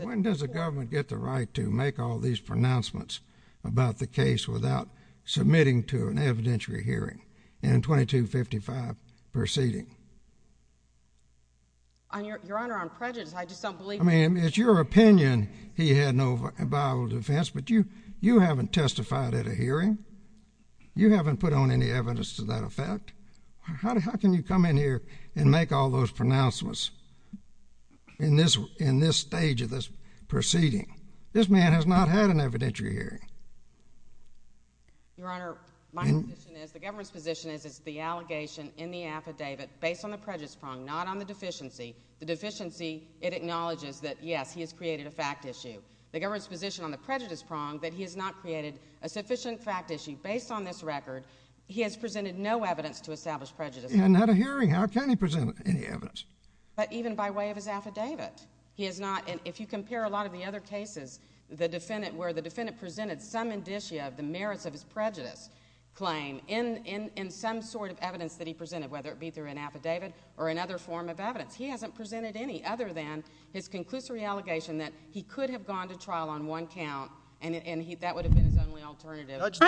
When does the government get the right to make all these pronouncements about the case without submitting to an evidentiary hearing in a 2255 proceeding? Your Honor, on prejudice, I just don't believe that. I mean, it's your opinion he had no viable defense, but you haven't testified at a hearing. You haven't put on any evidence to that effect. How can you come in here and make all those pronouncements in this stage of this proceeding? This man has not had an evidentiary hearing. Your Honor, my position is the government's position is it's the allegation in the affidavit based on the prejudice prong, not on the deficiency. The deficiency, it acknowledges that, yes, he has created a fact issue. The government's position on the prejudice prong that he has not created a sufficient fact issue based on this record. He has presented no evidence to establish prejudice. He hasn't had a hearing. How can he present any evidence? But even by way of his affidavit, he has not. And if you compare a lot of the other cases, where the defendant presented some indicia, the merits of his prejudice claim, in some sort of evidence that he presented, whether it be through an affidavit or another form of evidence, he hasn't presented any other than his conclusory allegation that he could have gone to trial on one count, and that would have been his only alternative. Judge,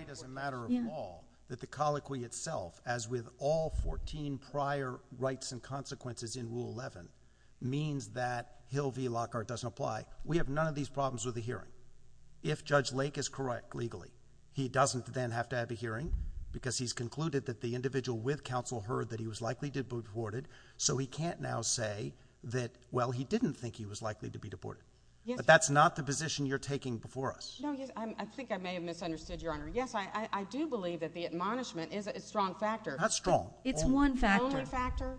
it's a matter of law that the colloquy itself, as with all 14 prior rights and consequences in Rule 11, means that Hill v. Lockhart doesn't apply. We have none of these problems with the hearing. If Judge Lake is correct, legally, he doesn't then have to have a hearing because he's concluded that the individual with counsel heard that he was likely to be deported, so he can't now say that, well, he didn't think he was likely to be deported. But that's not the position you're taking before us. I think I may have misunderstood, Your Honor. Yes, I do believe that the admonishment is a strong factor. Not strong. It's one factor.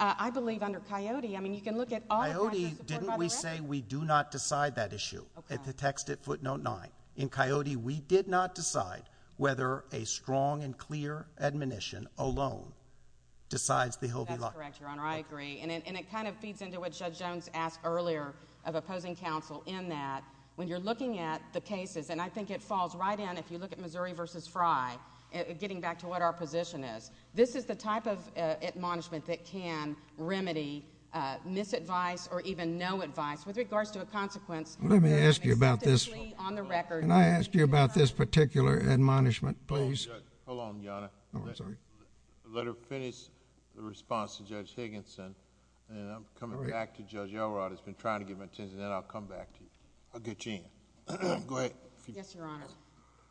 I believe under Coyote, I mean, you can look at all the other records. In Coyote, didn't we say we do not decide that issue? It's a text at footnote 9. In Coyote, we did not decide whether a strong and clear admonition alone decides the Hill v. Lockhart. That's correct, Your Honor. I agree, and it kind of feeds into what Judge Jones asked earlier of opposing counsel in that when you're looking at the cases, and I think it falls right in if you look at Missouri v. Frye, getting back to what our position is, this is the type of admonishment that can remedy misadvice or even no advice with regards to a consequence. Let me ask you about this. Can I ask you about this particular admonishment, please? Hold on, Your Honor. Let her finish the response to Judge Higginson, and then I'll come back to Judge Elrod who's been trying to give him attention, and then I'll come back to you. Go ahead. Yes, Your Honor.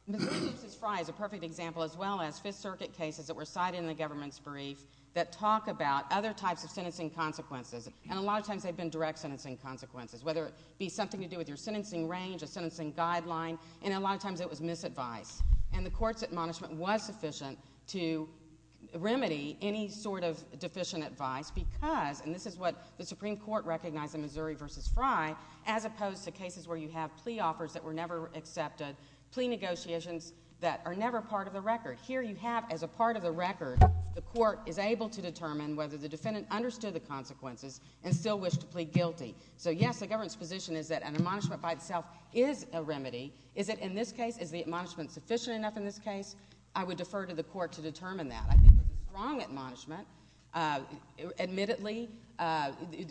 Missouri v. Frye is a perfect example as well as Fifth Circuit cases that were cited in the government spree that talk about other types of sentencing consequences, and a lot of times they've been direct sentencing consequences, whether it be something to do with your sentencing range, a sentencing guideline, and a lot of times it was misadvice. And the court's admonishment was sufficient to remedy any sort of deficient advice because, and this is what the Supreme Court recognized in Missouri v. Frye, as opposed to cases where you have plea offers that were never accepted, plea negotiations that are never part of the record. Here you have, as a part of the record, the court is able to determine whether the defendant understood the consequences and still wished to plead guilty. So, yes, the government's position is that an admonishment by itself is a remedy. Is it in this case? Is the admonishment sufficient enough in this case? I would defer to the court to determine that. I think it's a strong admonishment. Admittedly,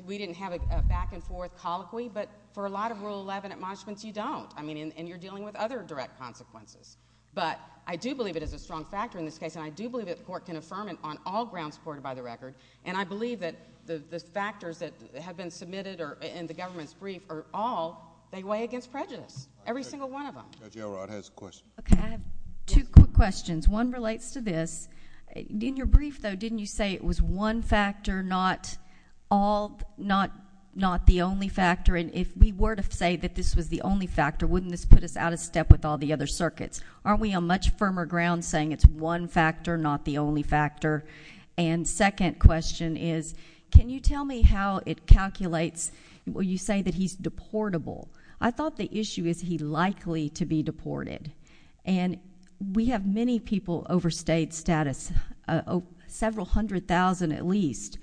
we didn't have a back-and-forth colloquy, but for a lot of Rule 11 admonishments, you don't. I mean, and you're dealing with other direct consequences. But I do believe it is a strong factor in this case, and I do believe that the court can affirm it on all grounds supported by the record. And I believe that the factors that have been submitted in the government's brief are all they weigh against prejudice, every single one of them. Judge O'Rourke has a question. Okay. I have two quick questions. One relates to this. In your brief, though, didn't you say it was one factor, not all, not the only factor? And if we were to say that this was the only factor, wouldn't this put us out of step with all the other circuits? Aren't we on much firmer ground saying it's one factor, not the only factor? And second question is, can you tell me how it calculates, will you say that he's deportable? I thought the issue is he likely to be deported. And we have many people overstayed status, several hundred thousand at least,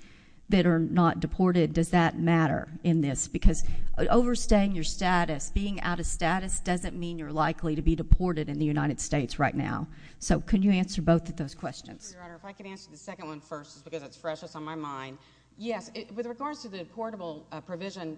that are not deported. Does that matter in this? Because overstaying your status, being out of status, doesn't mean you're likely to be deported in the United States right now. So can you answer both of those questions? Your Honor, if I could answer the second one first because it's precious on my mind. Yes. With regards to the deportable provision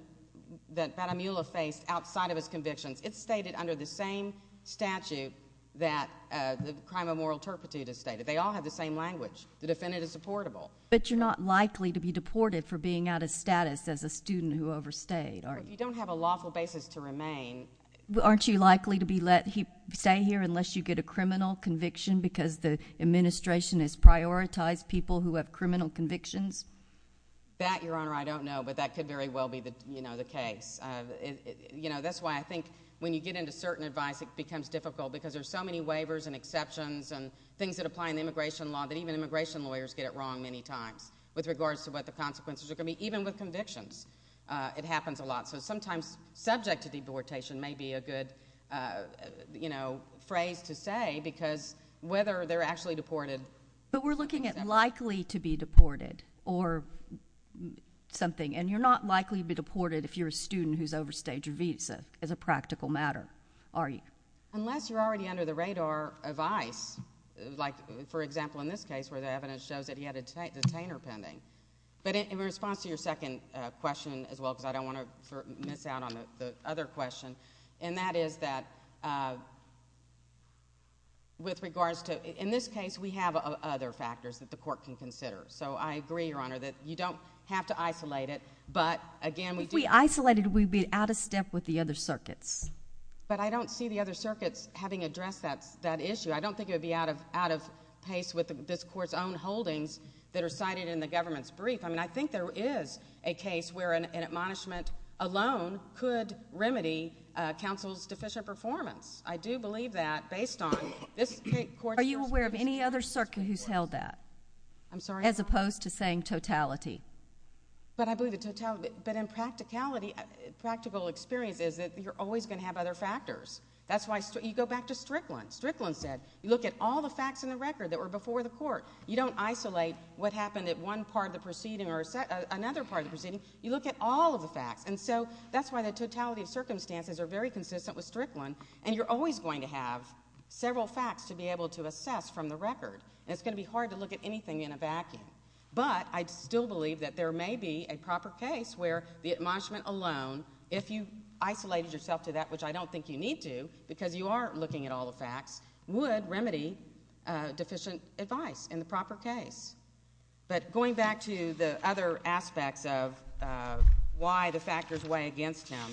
that Madam Eula faced outside of his conviction, it's stated under the same statute that the crime of moral turpitude is stated. They all have the same language. The defendant is deportable. But you're not likely to be deported for being out of status as a student who overstayed, are you? You don't have a lawful basis to remain. Aren't you likely to stay here unless you get a criminal conviction because the administration has prioritized people who have criminal convictions? That, Your Honor, I don't know, but that could very well be the case. That's why I think when you get into certain advice it becomes difficult because there's so many waivers and exceptions and things that apply in immigration law that even immigration lawyers get it wrong many times with regards to what the consequences are going to be. Even with convictions it happens a lot because sometimes subject to deportation may be a good phrase to say because whether they're actually deported. But we're looking at likely to be deported or something, and you're not likely to be deported if you're a student who's overstayed your visa, as a practical matter, are you? Unless you're already under the radar of ICE, like, for example, in this case where the evidence shows that he had a detainer pending. But in response to your second question as well, because I don't want to miss out on the other question, and that is that with regards to, in this case, we have other factors that the court can consider. So I agree, Your Honor, that you don't have to isolate it, but again we do. If we isolated it we'd be out of step with the other circuits. But I don't see the other circuits having addressed that issue. I don't think it would be out of pace with this court's own holdings that are cited in the government's brief. I mean, I think there is a case where an admonishment alone could remedy counsel's deficient performance. I do believe that based on this court's... Are you aware of any other circuit who's held that? I'm sorry? As opposed to saying totality. But I believe it's totality. But in practicality, practical experience is that you're always going to have other factors. That's why you go back to Strickland. Strickland said look at all the facts in the record that were before the court. You don't isolate what happened at one part of the proceeding or another part of the proceeding. You look at all of the facts. And so that's why the totality of circumstances are very consistent with Strickland, and you're always going to have several facts to be able to assess from the record. And it's going to be hard to look at anything in a vacuum. But I still believe that there may be a proper case where the admonishment alone, if you isolated yourself to that, which I don't think you need to, because you are looking at all the facts, would remedy deficient advice in the proper case. But going back to the other aspect of why the factors weigh against him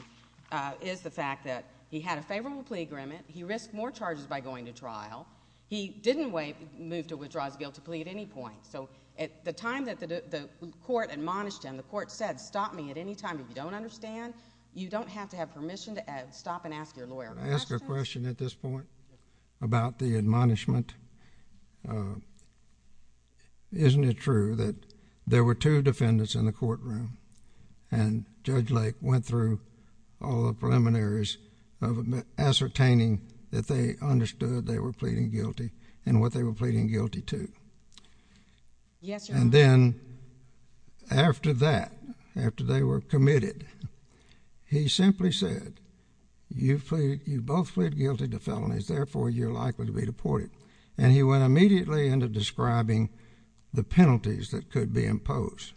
is the fact that he had a favorable plea agreement, he risked more charges by going to trial, he didn't move to withdraw to be able to plea at any point. So at the time that the court admonished him, the court said, Stop me at any time if you don't understand. You don't have to have permission to stop and ask your lawyer. Can I ask a question at this point about the admonishment? Isn't it true that there were two defendants in the courtroom and Judge Lake went through all the preliminaries ascertaining that they understood they were pleading guilty and what they were pleading guilty to? And then after that, after they were committed, he simply said, You both plead guilty to felonies, therefore you are likely to be deported. And he went immediately into describing the penalties that could be imposed.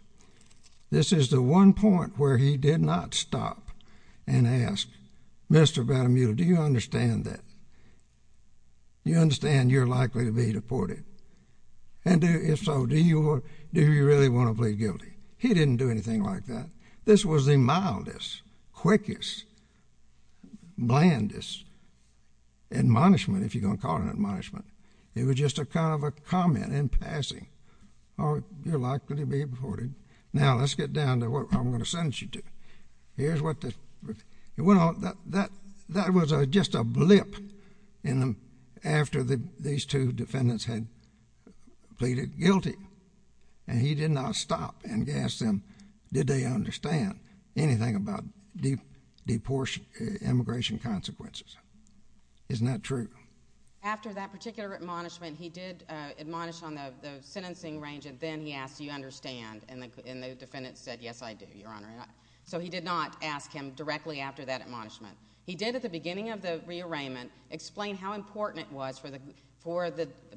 This is the one point where he did not stop and ask, Mr. Van Mule, do you understand that? Do you understand you're likely to be deported? And if so, do you really want to plead guilty? He didn't do anything like that. This was the mildest, quickest, blandest admonishment, if you're going to call it an admonishment. It was just a kind of a comment in passing. You're likely to be deported. Now let's get down to what I'm going to send you to. That was just a blip after these two defendants had pleaded guilty. And he did not stop and ask them, Did they understand anything about deportation, immigration consequences? Isn't that true? After that particular admonishment, he did admonish on the sentencing range and then he asked, Do you understand? And the defendant said, Yes, I do, Your Honor. So he did not ask him directly after that admonishment. He did, at the beginning of the rearrangement, explain how important it was for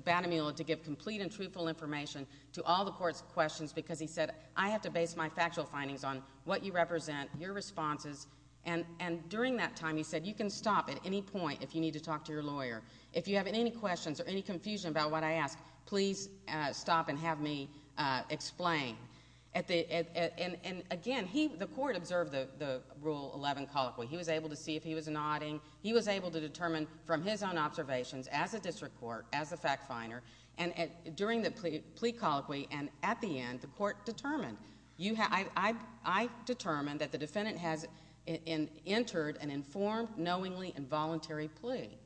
Van Mule to get complete and truthful information to all the court's questions because he said, I have to base my factual findings on what you represent, your responses. And during that time, he said, You can stop at any point if you need to talk to your lawyer. If you have any questions or any confusion about what I asked, please stop and have me explain. And again, the court observed the Rule 11 colloquy. He was able to see if he was nodding. He was able to determine from his own observations, as a district court, as a fact finder, during the plea colloquy and at the end, the court determined. I determined that the defendant had entered an informed, knowingly, involuntary plea.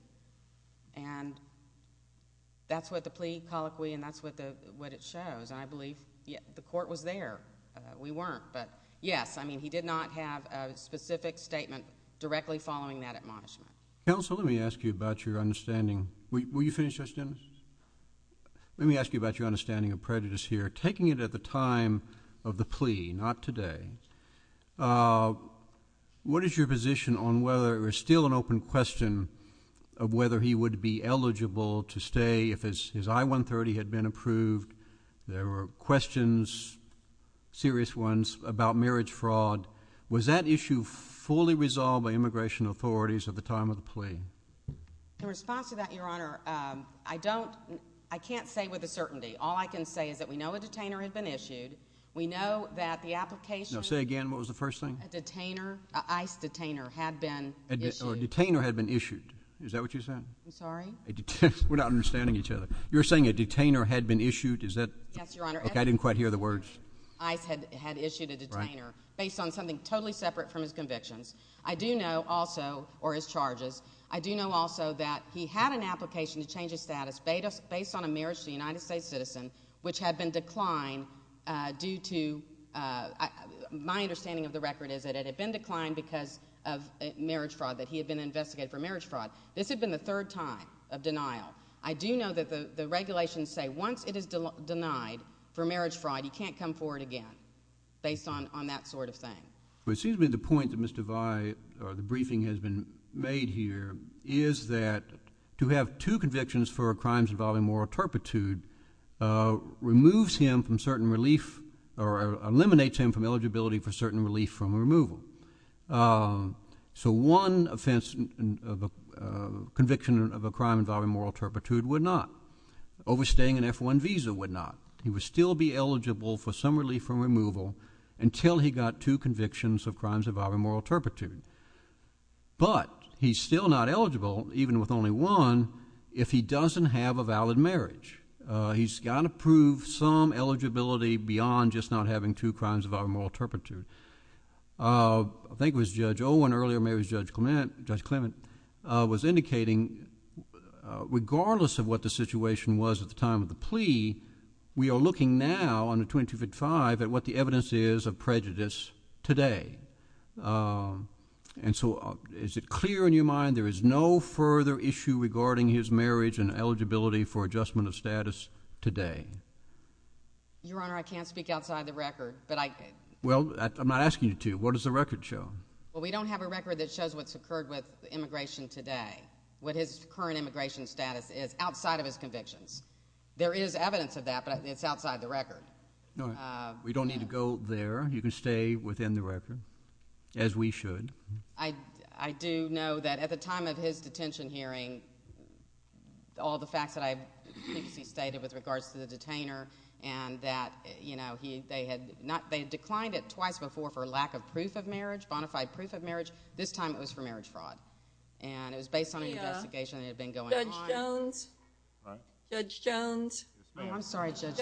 And that's what the plea colloquy, and that's what it shows. And I believe the court was there. We weren't. But, yes, I mean, he did not have a specific statement directly following that admonishment. Counsel, let me ask you about your understanding. Will you finish this, Dennis? Let me ask you about your understanding of prejudice here. Taking it at the time of the plea, not today, what is your position on whether there's still an open question of whether he would be eligible to stay if his I-130 had been approved? There were questions, serious ones, about marriage fraud. Was that issue fully resolved by immigration authorities at the time of the plea? In response to that, Your Honor, I can't say with a certainty. All I can say is that we know a detainer has been issued. We know that the application was issued. Say again, what was the first thing? A detainer, an ICE detainer, had been issued. A detainer had been issued. Is that what you said? I'm sorry? We're not understanding each other. You were saying a detainer had been issued. Yes, Your Honor. I didn't quite hear the words. ICE had issued a detainer based on something totally separate from his conviction. I do know also, or his charges, I do know also that he had an application to change his status based on a marriage fraud charge against a United States citizen, which had been declined due to, my understanding of the record is that it had been declined because of marriage fraud, that he had been investigated for marriage fraud. This had been the third time of denial. I do know that the regulations say once it is denied for marriage fraud, you can't come forward again based on that sort of thing. It seems to me the point that Mr. Vi, the briefing has been made here, is that to have two convictions for crimes involving moral turpitude removes him from certain relief, or eliminates him from eligibility for certain relief from removal. So one offense, conviction of a crime involving moral turpitude would not. Overstaying an F-1 visa would not. He would still be eligible for some relief from removal until he got two convictions of crimes involving moral turpitude. But he's still not eligible, even with only one, if he doesn't have a valid marriage. He's got to prove some eligibility beyond just not having two crimes involving moral turpitude. I think it was Judge Owen earlier, maybe it was Judge Clement, was indicating regardless of what the situation was at the time of the plea, we are looking now under 2255 at what the evidence is of prejudice today. And so is it clear in your mind there is no further issue regarding his marriage and eligibility for adjustment of status today? Your Honor, I can't speak outside of the record, but I can. Well, I'm not asking you to. What does the record show? Well, we don't have a record that shows what's occurred with immigration today, what his current immigration status is outside of his conviction. There is evidence of that, but it's outside the record. No, we don't need to go there. You can stay within the record, as we should. I do know that at the time of his detention hearing, all the facts that I've stated with regards to the detainer, and that they had declined it twice before for lack of proof of marriage, bona fide proof of marriage. This time it was for marriage fraud. And it was based on an investigation that had been going on. Judge Jones? Judge Jones? I'm sorry, Judge.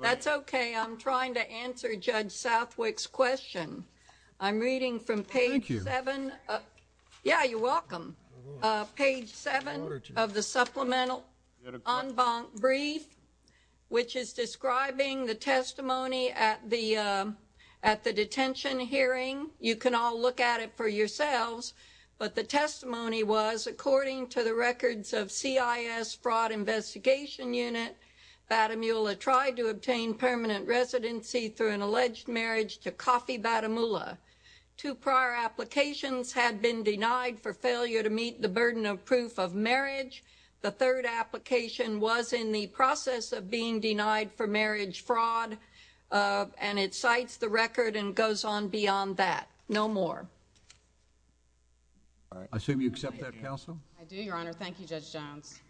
That's okay. I'm trying to answer Judge Southwick's question. I'm reading from page 7. Thank you. Yeah, you're welcome. Page 7 of the supplemental en banc brief, which is describing the testimony at the detention hearing. You can all look at it for yourselves, but the testimony was, according to the records of CIS Fraud Investigation Unit, Batamula tried to obtain permanent residency through an alleged marriage to Coffey Batamula. Two prior applications had been denied for failure to meet the burden of proof of marriage. The third application was in the process of being denied for marriage fraud, and it cites the record and goes on beyond that. No more. I assume you accept that, Counsel? I do, Your Honor. Thank you, Judge Jones.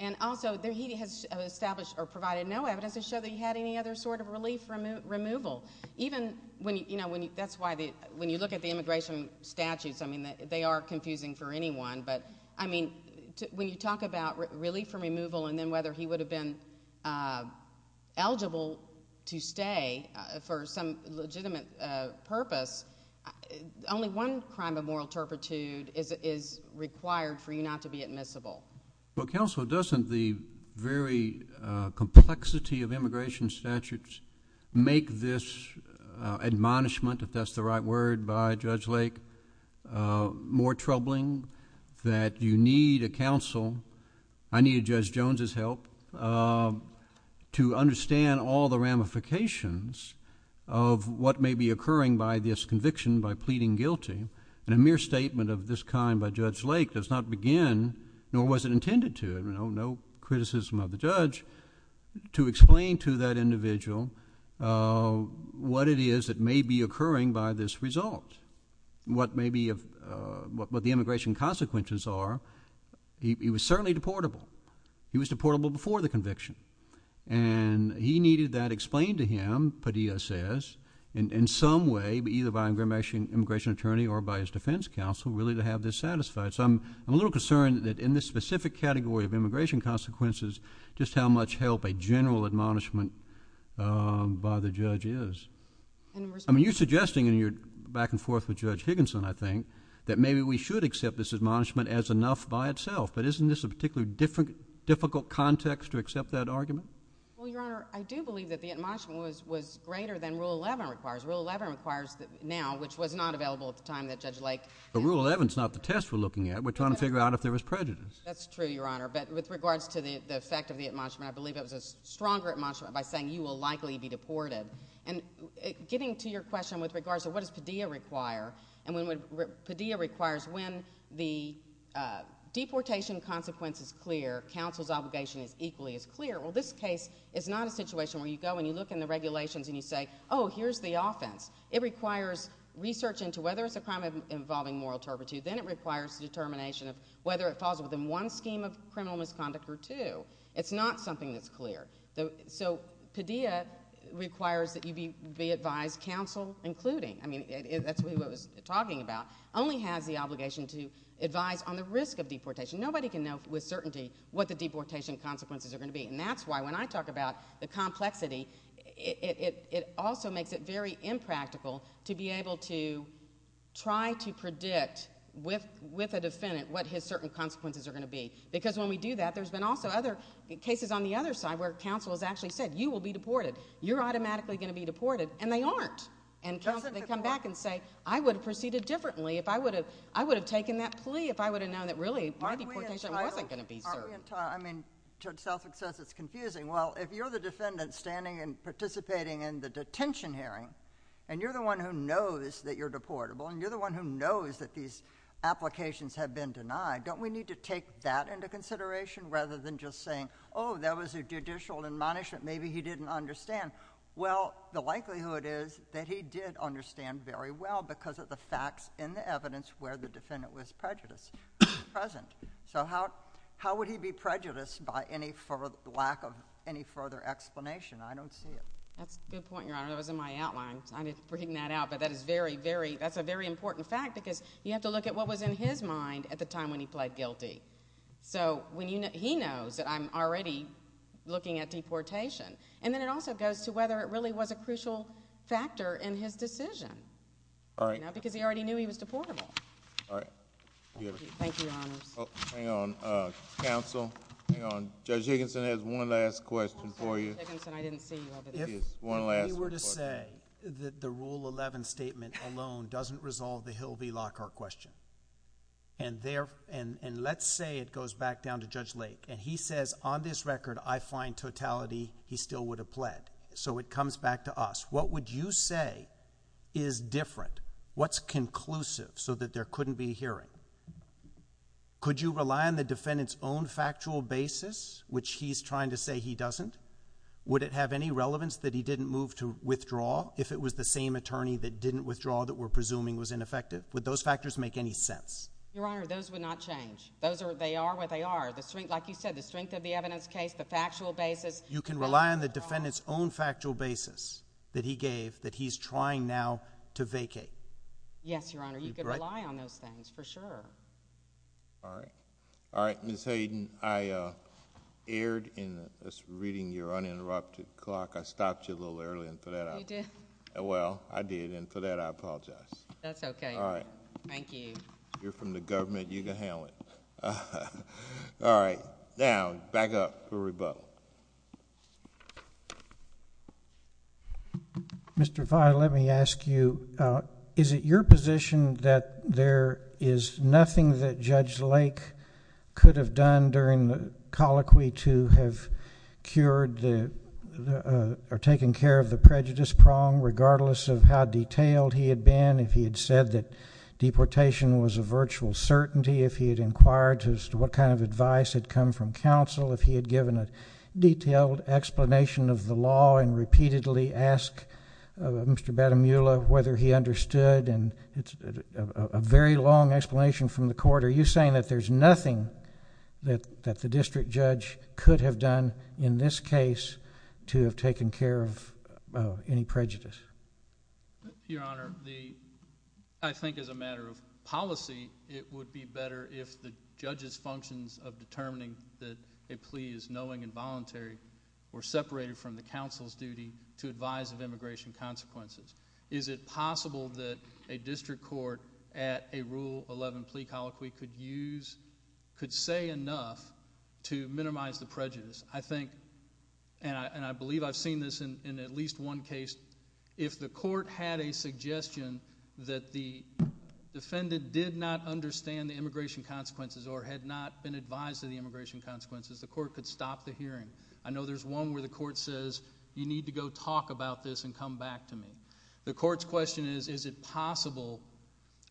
And also, he has established or provided no evidence to show that he had any other sort of relief from removal. Even when you look at the immigration statutes, I mean, they are confusing for anyone, but, I mean, when you talk about relief from removal and then whether he would have been eligible to stay for some legitimate purpose, only one crime of moral turpitude is required for you not to be admissible. Well, Counsel, doesn't the very complexity of immigration statutes make this admonishment, if that's the right word by Judge Lake, more troubling, that you need a counsel? I need a Judge Jones' help to understand all the ramifications of what may be occurring by this conviction, by pleading guilty, and a mere statement of this kind by Judge Lake does not begin, nor was it intended to, no criticism of the judge, to explain to that individual what it is that may be occurring by this result, what the immigration consequences are. He was certainly deportable. He was deportable before the conviction, and he needed that explained to him, Padilla says, in some way, either by an immigration attorney or by his defense counsel, really, to have this satisfied. So I'm a little concerned that in this specific category of immigration consequences, just how much help a general admonishment by the judge is. I mean, you're suggesting in your back-and-forth with Judge Higginson, I think, that maybe we should accept this admonishment as enough by itself, that isn't this a particularly difficult context to accept that argument? Well, Your Honor, I do believe that the admonishment was greater than Rule 11 requires. Rule 11 requires now, which was not available at the time that Judge Lake... But Rule 11 is not the test we're looking at. We're trying to figure out if there was prejudice. That's true, Your Honor. But with regards to the effect of the admonishment, I believe it was a stronger admonishment by saying you will likely be deported. And getting to your question with regards to what does Padilla require, and what Padilla requires when the deportation consequence is clear, counsel's obligation equally is clear, well, this case is not a situation where you go and you look in the regulations and you say, oh, here's the offense. It requires research into whether it's a crime involving moral turpitude. Then it requires determination of whether it falls within one scheme of criminal misconduct or two. It's not something that's clear. So Padilla requires that you be advised, counsel including, I mean, that's really what we're talking about, only has the obligation to advise on the risk of deportation. Nobody can know with certainty what the deportation consequences are going to be. And that's why when I talk about the complexity, it also makes it very impractical to be able to try to predict with a defendant what his certain consequences are going to be. Because when we do that, there's been also other cases on the other side where counsel has actually said you will be deported, you're automatically going to be deported, and they aren't. And counsel can come back and say I would have proceeded differently if I would have taken that plea if I would have known that really my deportation wasn't going to be served. I mean, to itself it says it's confusing. Well, if you're the defendant standing and participating in the detention hearing and you're the one who knows that you're deportable and you're the one who knows that these applications have been denied, don't we need to take that into consideration rather than just saying, oh, that was a judicial admonishment, maybe he didn't understand. Well, the likelihood is that he did understand very well because of the facts and the evidence where the defendant was present. So how would he be prejudiced by any further lack of any further explanation? I don't see it. That's a good point, Your Honor. That was in my outline. I'm just reading that out, but that's a very important fact because you have to look at what was in his mind at the time when he pled guilty. So he knows that I'm already looking at deportation. And then it also goes to whether it really was a crucial factor in his decision because he already knew he was deportable. All right. Thank you, Your Honor. Hang on. Counsel, hang on. Judge Higginson has one last question for you. One last question. If we were to say that the Rule 11 statement alone doesn't resolve the Hill v. Lockhart question and let's say it goes back down to Judge Lake and he says on this record I find totality, he still would have pled. So it comes back to us. What would you say is different? What's conclusive so that there couldn't be a hearing? Could you rely on the defendant's own factual basis, which he's trying to say he doesn't? Would it have any relevance that he didn't move to withdraw if it was the same attorney that didn't withdraw that we're presuming was ineffective? Would those factors make any sense? Your Honor, those would not change. They are what they are. Like you said, the strength of the evidence case, the factual basis. You can rely on the defendant's own factual basis that he gave, that he's trying now to vacate. Yes, Your Honor, you can rely on those things for sure. All right. Ms. Hayden, I erred in reading your uninterrupted clock. I stopped you a little early for that. You did? Well, I did, and for that I apologize. That's okay. All right. Thank you. You're from the government. You can handle it. All right. Now, back up for rebuttal. Mr. Fye, let me ask you, is it your position that there is nothing that Judge Lake could have done during the colloquy to have cured or taken care of the prejudice prong, regardless of how detailed he had been, if he had said that deportation was a virtual certainty, if he had inquired as to what kind of advice had come from counsel, if he had given a detailed explanation of the law and repeatedly asked Mr. Batomula whether he understood, and it's a very long explanation from the court. Are you saying that there's nothing that the district judge could have done in this case to have taken care of any prejudice? Your Honor, I think as a matter of policy, it would be better if the judge's functions of determining that a plea is knowing and voluntary were separated from the counsel's duty to advise of immigration consequences. Is it possible that a district court at a Rule 11 plea colloquy could say enough to minimize the prejudice? I think, and I believe I've seen this in at least one case, if the court had a suggestion that the defendant did not understand the immigration consequences or had not been advised of the immigration consequences, the court could stop the hearing. I know there's one where the court says, you need to go talk about this and come back to me. The court's question is, is it possible?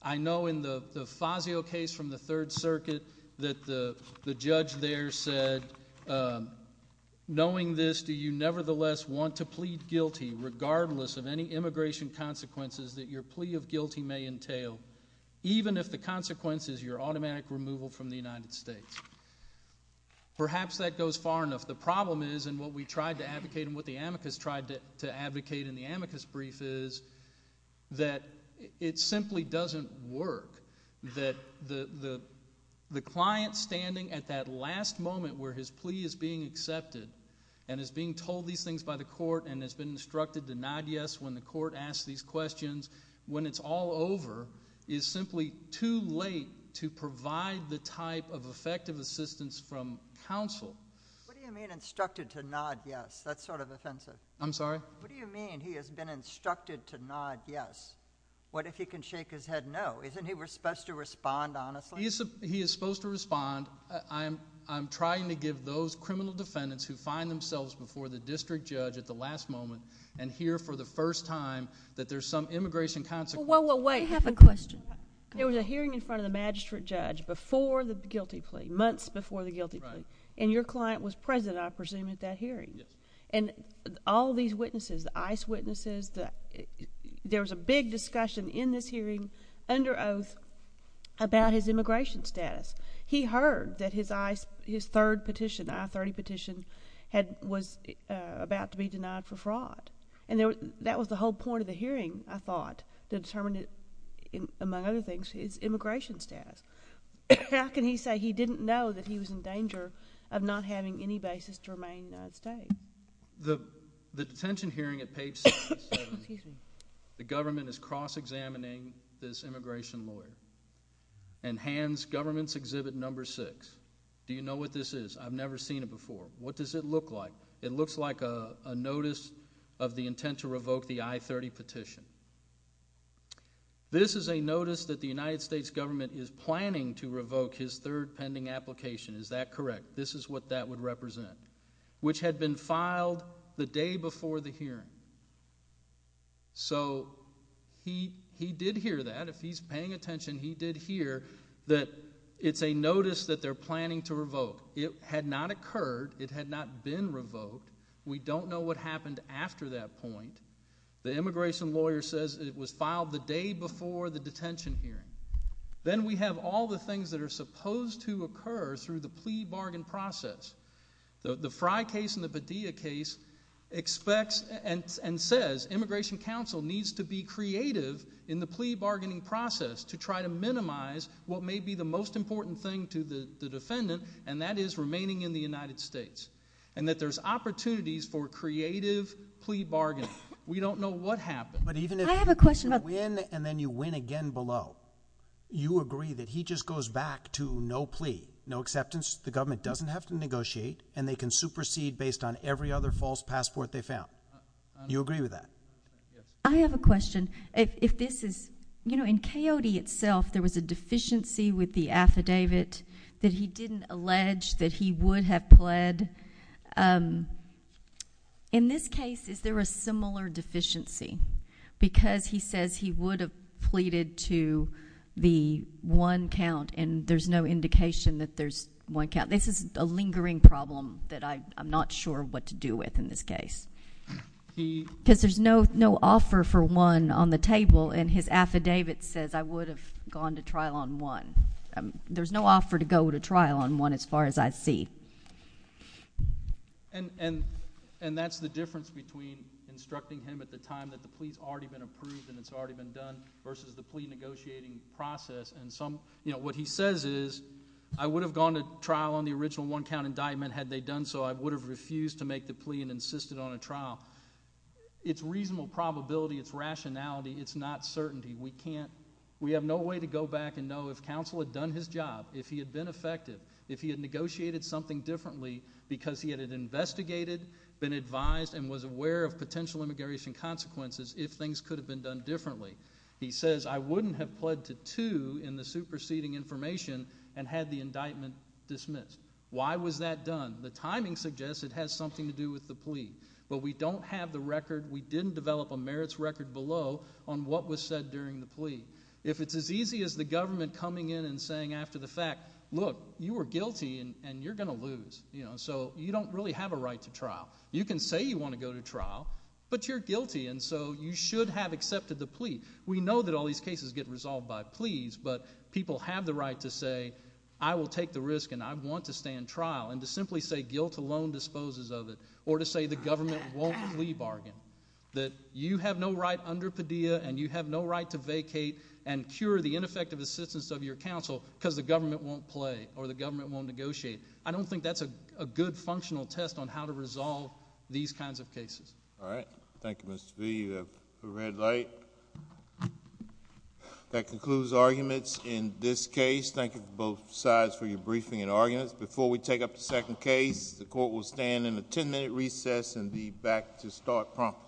I know in the Fazio case from the Third Circuit that the judge there said, knowing this, do you nevertheless want to plead guilty regardless of any immigration consequences that your plea of guilty may entail, even if the consequence is your automatic removal from the United States? Perhaps that goes far enough. The problem is, and what we tried to advocate and what the amicus tried to advocate in the amicus brief is that it simply doesn't work, that the client standing at that last moment where his plea is being accepted and is being told these things by the court and has been instructed to nod yes when the court asks these questions, when it's all over, is simply too late to provide the type of effective assistance from counsel. What do you mean instructed to nod yes? That's sort of offensive. I'm sorry? What do you mean he has been instructed to nod yes? What if he can shake his head no? Isn't he supposed to respond honestly? He is supposed to respond. I'm trying to give those criminal defendants who find themselves before the district judge at the last moment and hear for the first time that there's some immigration consequences. Wait, wait, wait. I have a question. There was a hearing in front of the magistrate judge before the guilty plea, months before the guilty plea, and your client was present, I presume, at that hearing. Yes. And all these witnesses, the ICE witnesses, there was a big discussion in this hearing under oath about his immigration status. He heard that his third petition, I-30 petition, was about to be denied for fraud. And that was the whole point of the hearing, I thought, to determine, among other things, his immigration status. How can he say he didn't know that he was in danger of not having any basis to remain safe? The detention hearing at page 67, the government is cross-examining this immigration lawyer and hands government's exhibit number 6. Do you know what this is? I've never seen it before. What does it look like? It looks like a notice of the intent to revoke the I-30 petition. This is a notice that the United States government is planning to revoke his third pending application. Is that correct? This is what that would represent, which had been filed the day before the hearing. So he did hear that. If he's paying attention, he did hear that it's a notice that they're planning to revoke. It had not occurred. It had not been revoked. We don't know what happened after that point. The immigration lawyer says it was filed the day before the detention hearing. Then we have all the things that are supposed to occur through the plea bargain process. The Frye case and the Padilla case expects and says that the Immigration Council needs to be creative in the plea bargaining process to try to minimize what may be the most important thing to the defendant, and that is remaining in the United States, and that there's opportunities for creative plea bargaining. We don't know what happened. I have a question. But even if you win and then you win again below, you agree that he just goes back to no plea, no acceptance. The government doesn't have to negotiate, and they can supersede based on every other false passport they found. Do you agree with that? I have a question. If this is, you know, in Coyote itself, there was a deficiency with the affidavit that he didn't allege that he would have pled. In this case, is there a similar deficiency? Because he says he would have pleaded to the one count, and there's no indication that there's one count. This is a lingering problem that I'm not sure what to do with in this case. Because there's no offer for one on the table, and his affidavit says, I would have gone to trial on one. There's no offer to go to trial on one as far as I see. And that's the difference between instructing him at the time that the plea's already been approved and it's already been done versus the plea negotiating process. You know, what he says is, I would have gone to trial on the original one count indictment had they done so. I would have refused to make the plea and insisted on a trial. It's reasonable probability, it's rationality, it's not certainty. We have no way to go back and know if counsel had done his job, if he had been effective, if he had negotiated something differently because he had it investigated, been advised, and was aware of potential immigration consequences if things could have been done differently. He says, I wouldn't have pled to two in the superseding information and had the indictment dismissed. Why was that done? The timing suggests it has something to do with the plea. But we don't have the record. We didn't develop a merits record below on what was said during the plea. If it's as easy as the government coming in and saying after the fact, look, you were guilty and you're going to lose. So you don't really have a right to trial. You can say you want to go to trial, but you're guilty, and so you should have accepted the plea. We know that all these cases get resolved by pleas, but people have the right to say, I will take the risk and I want to stay in trial, and to simply say guilt alone disposes of it, or to say the government won't plea bargain, that you have no right under Padilla and you have no right to vacate and cure the ineffective assistance of your counsel because the government won't play or the government won't negotiate. I don't think that's a good functional test on how to resolve these kinds of cases. All right. Thank you, Mr. Speedy, for the red light. That concludes arguments in this case. Thank you to both sides for your briefing and arguments. Before we take up the second case, the Court will stand in the 10-minute recess and be back to start prompt.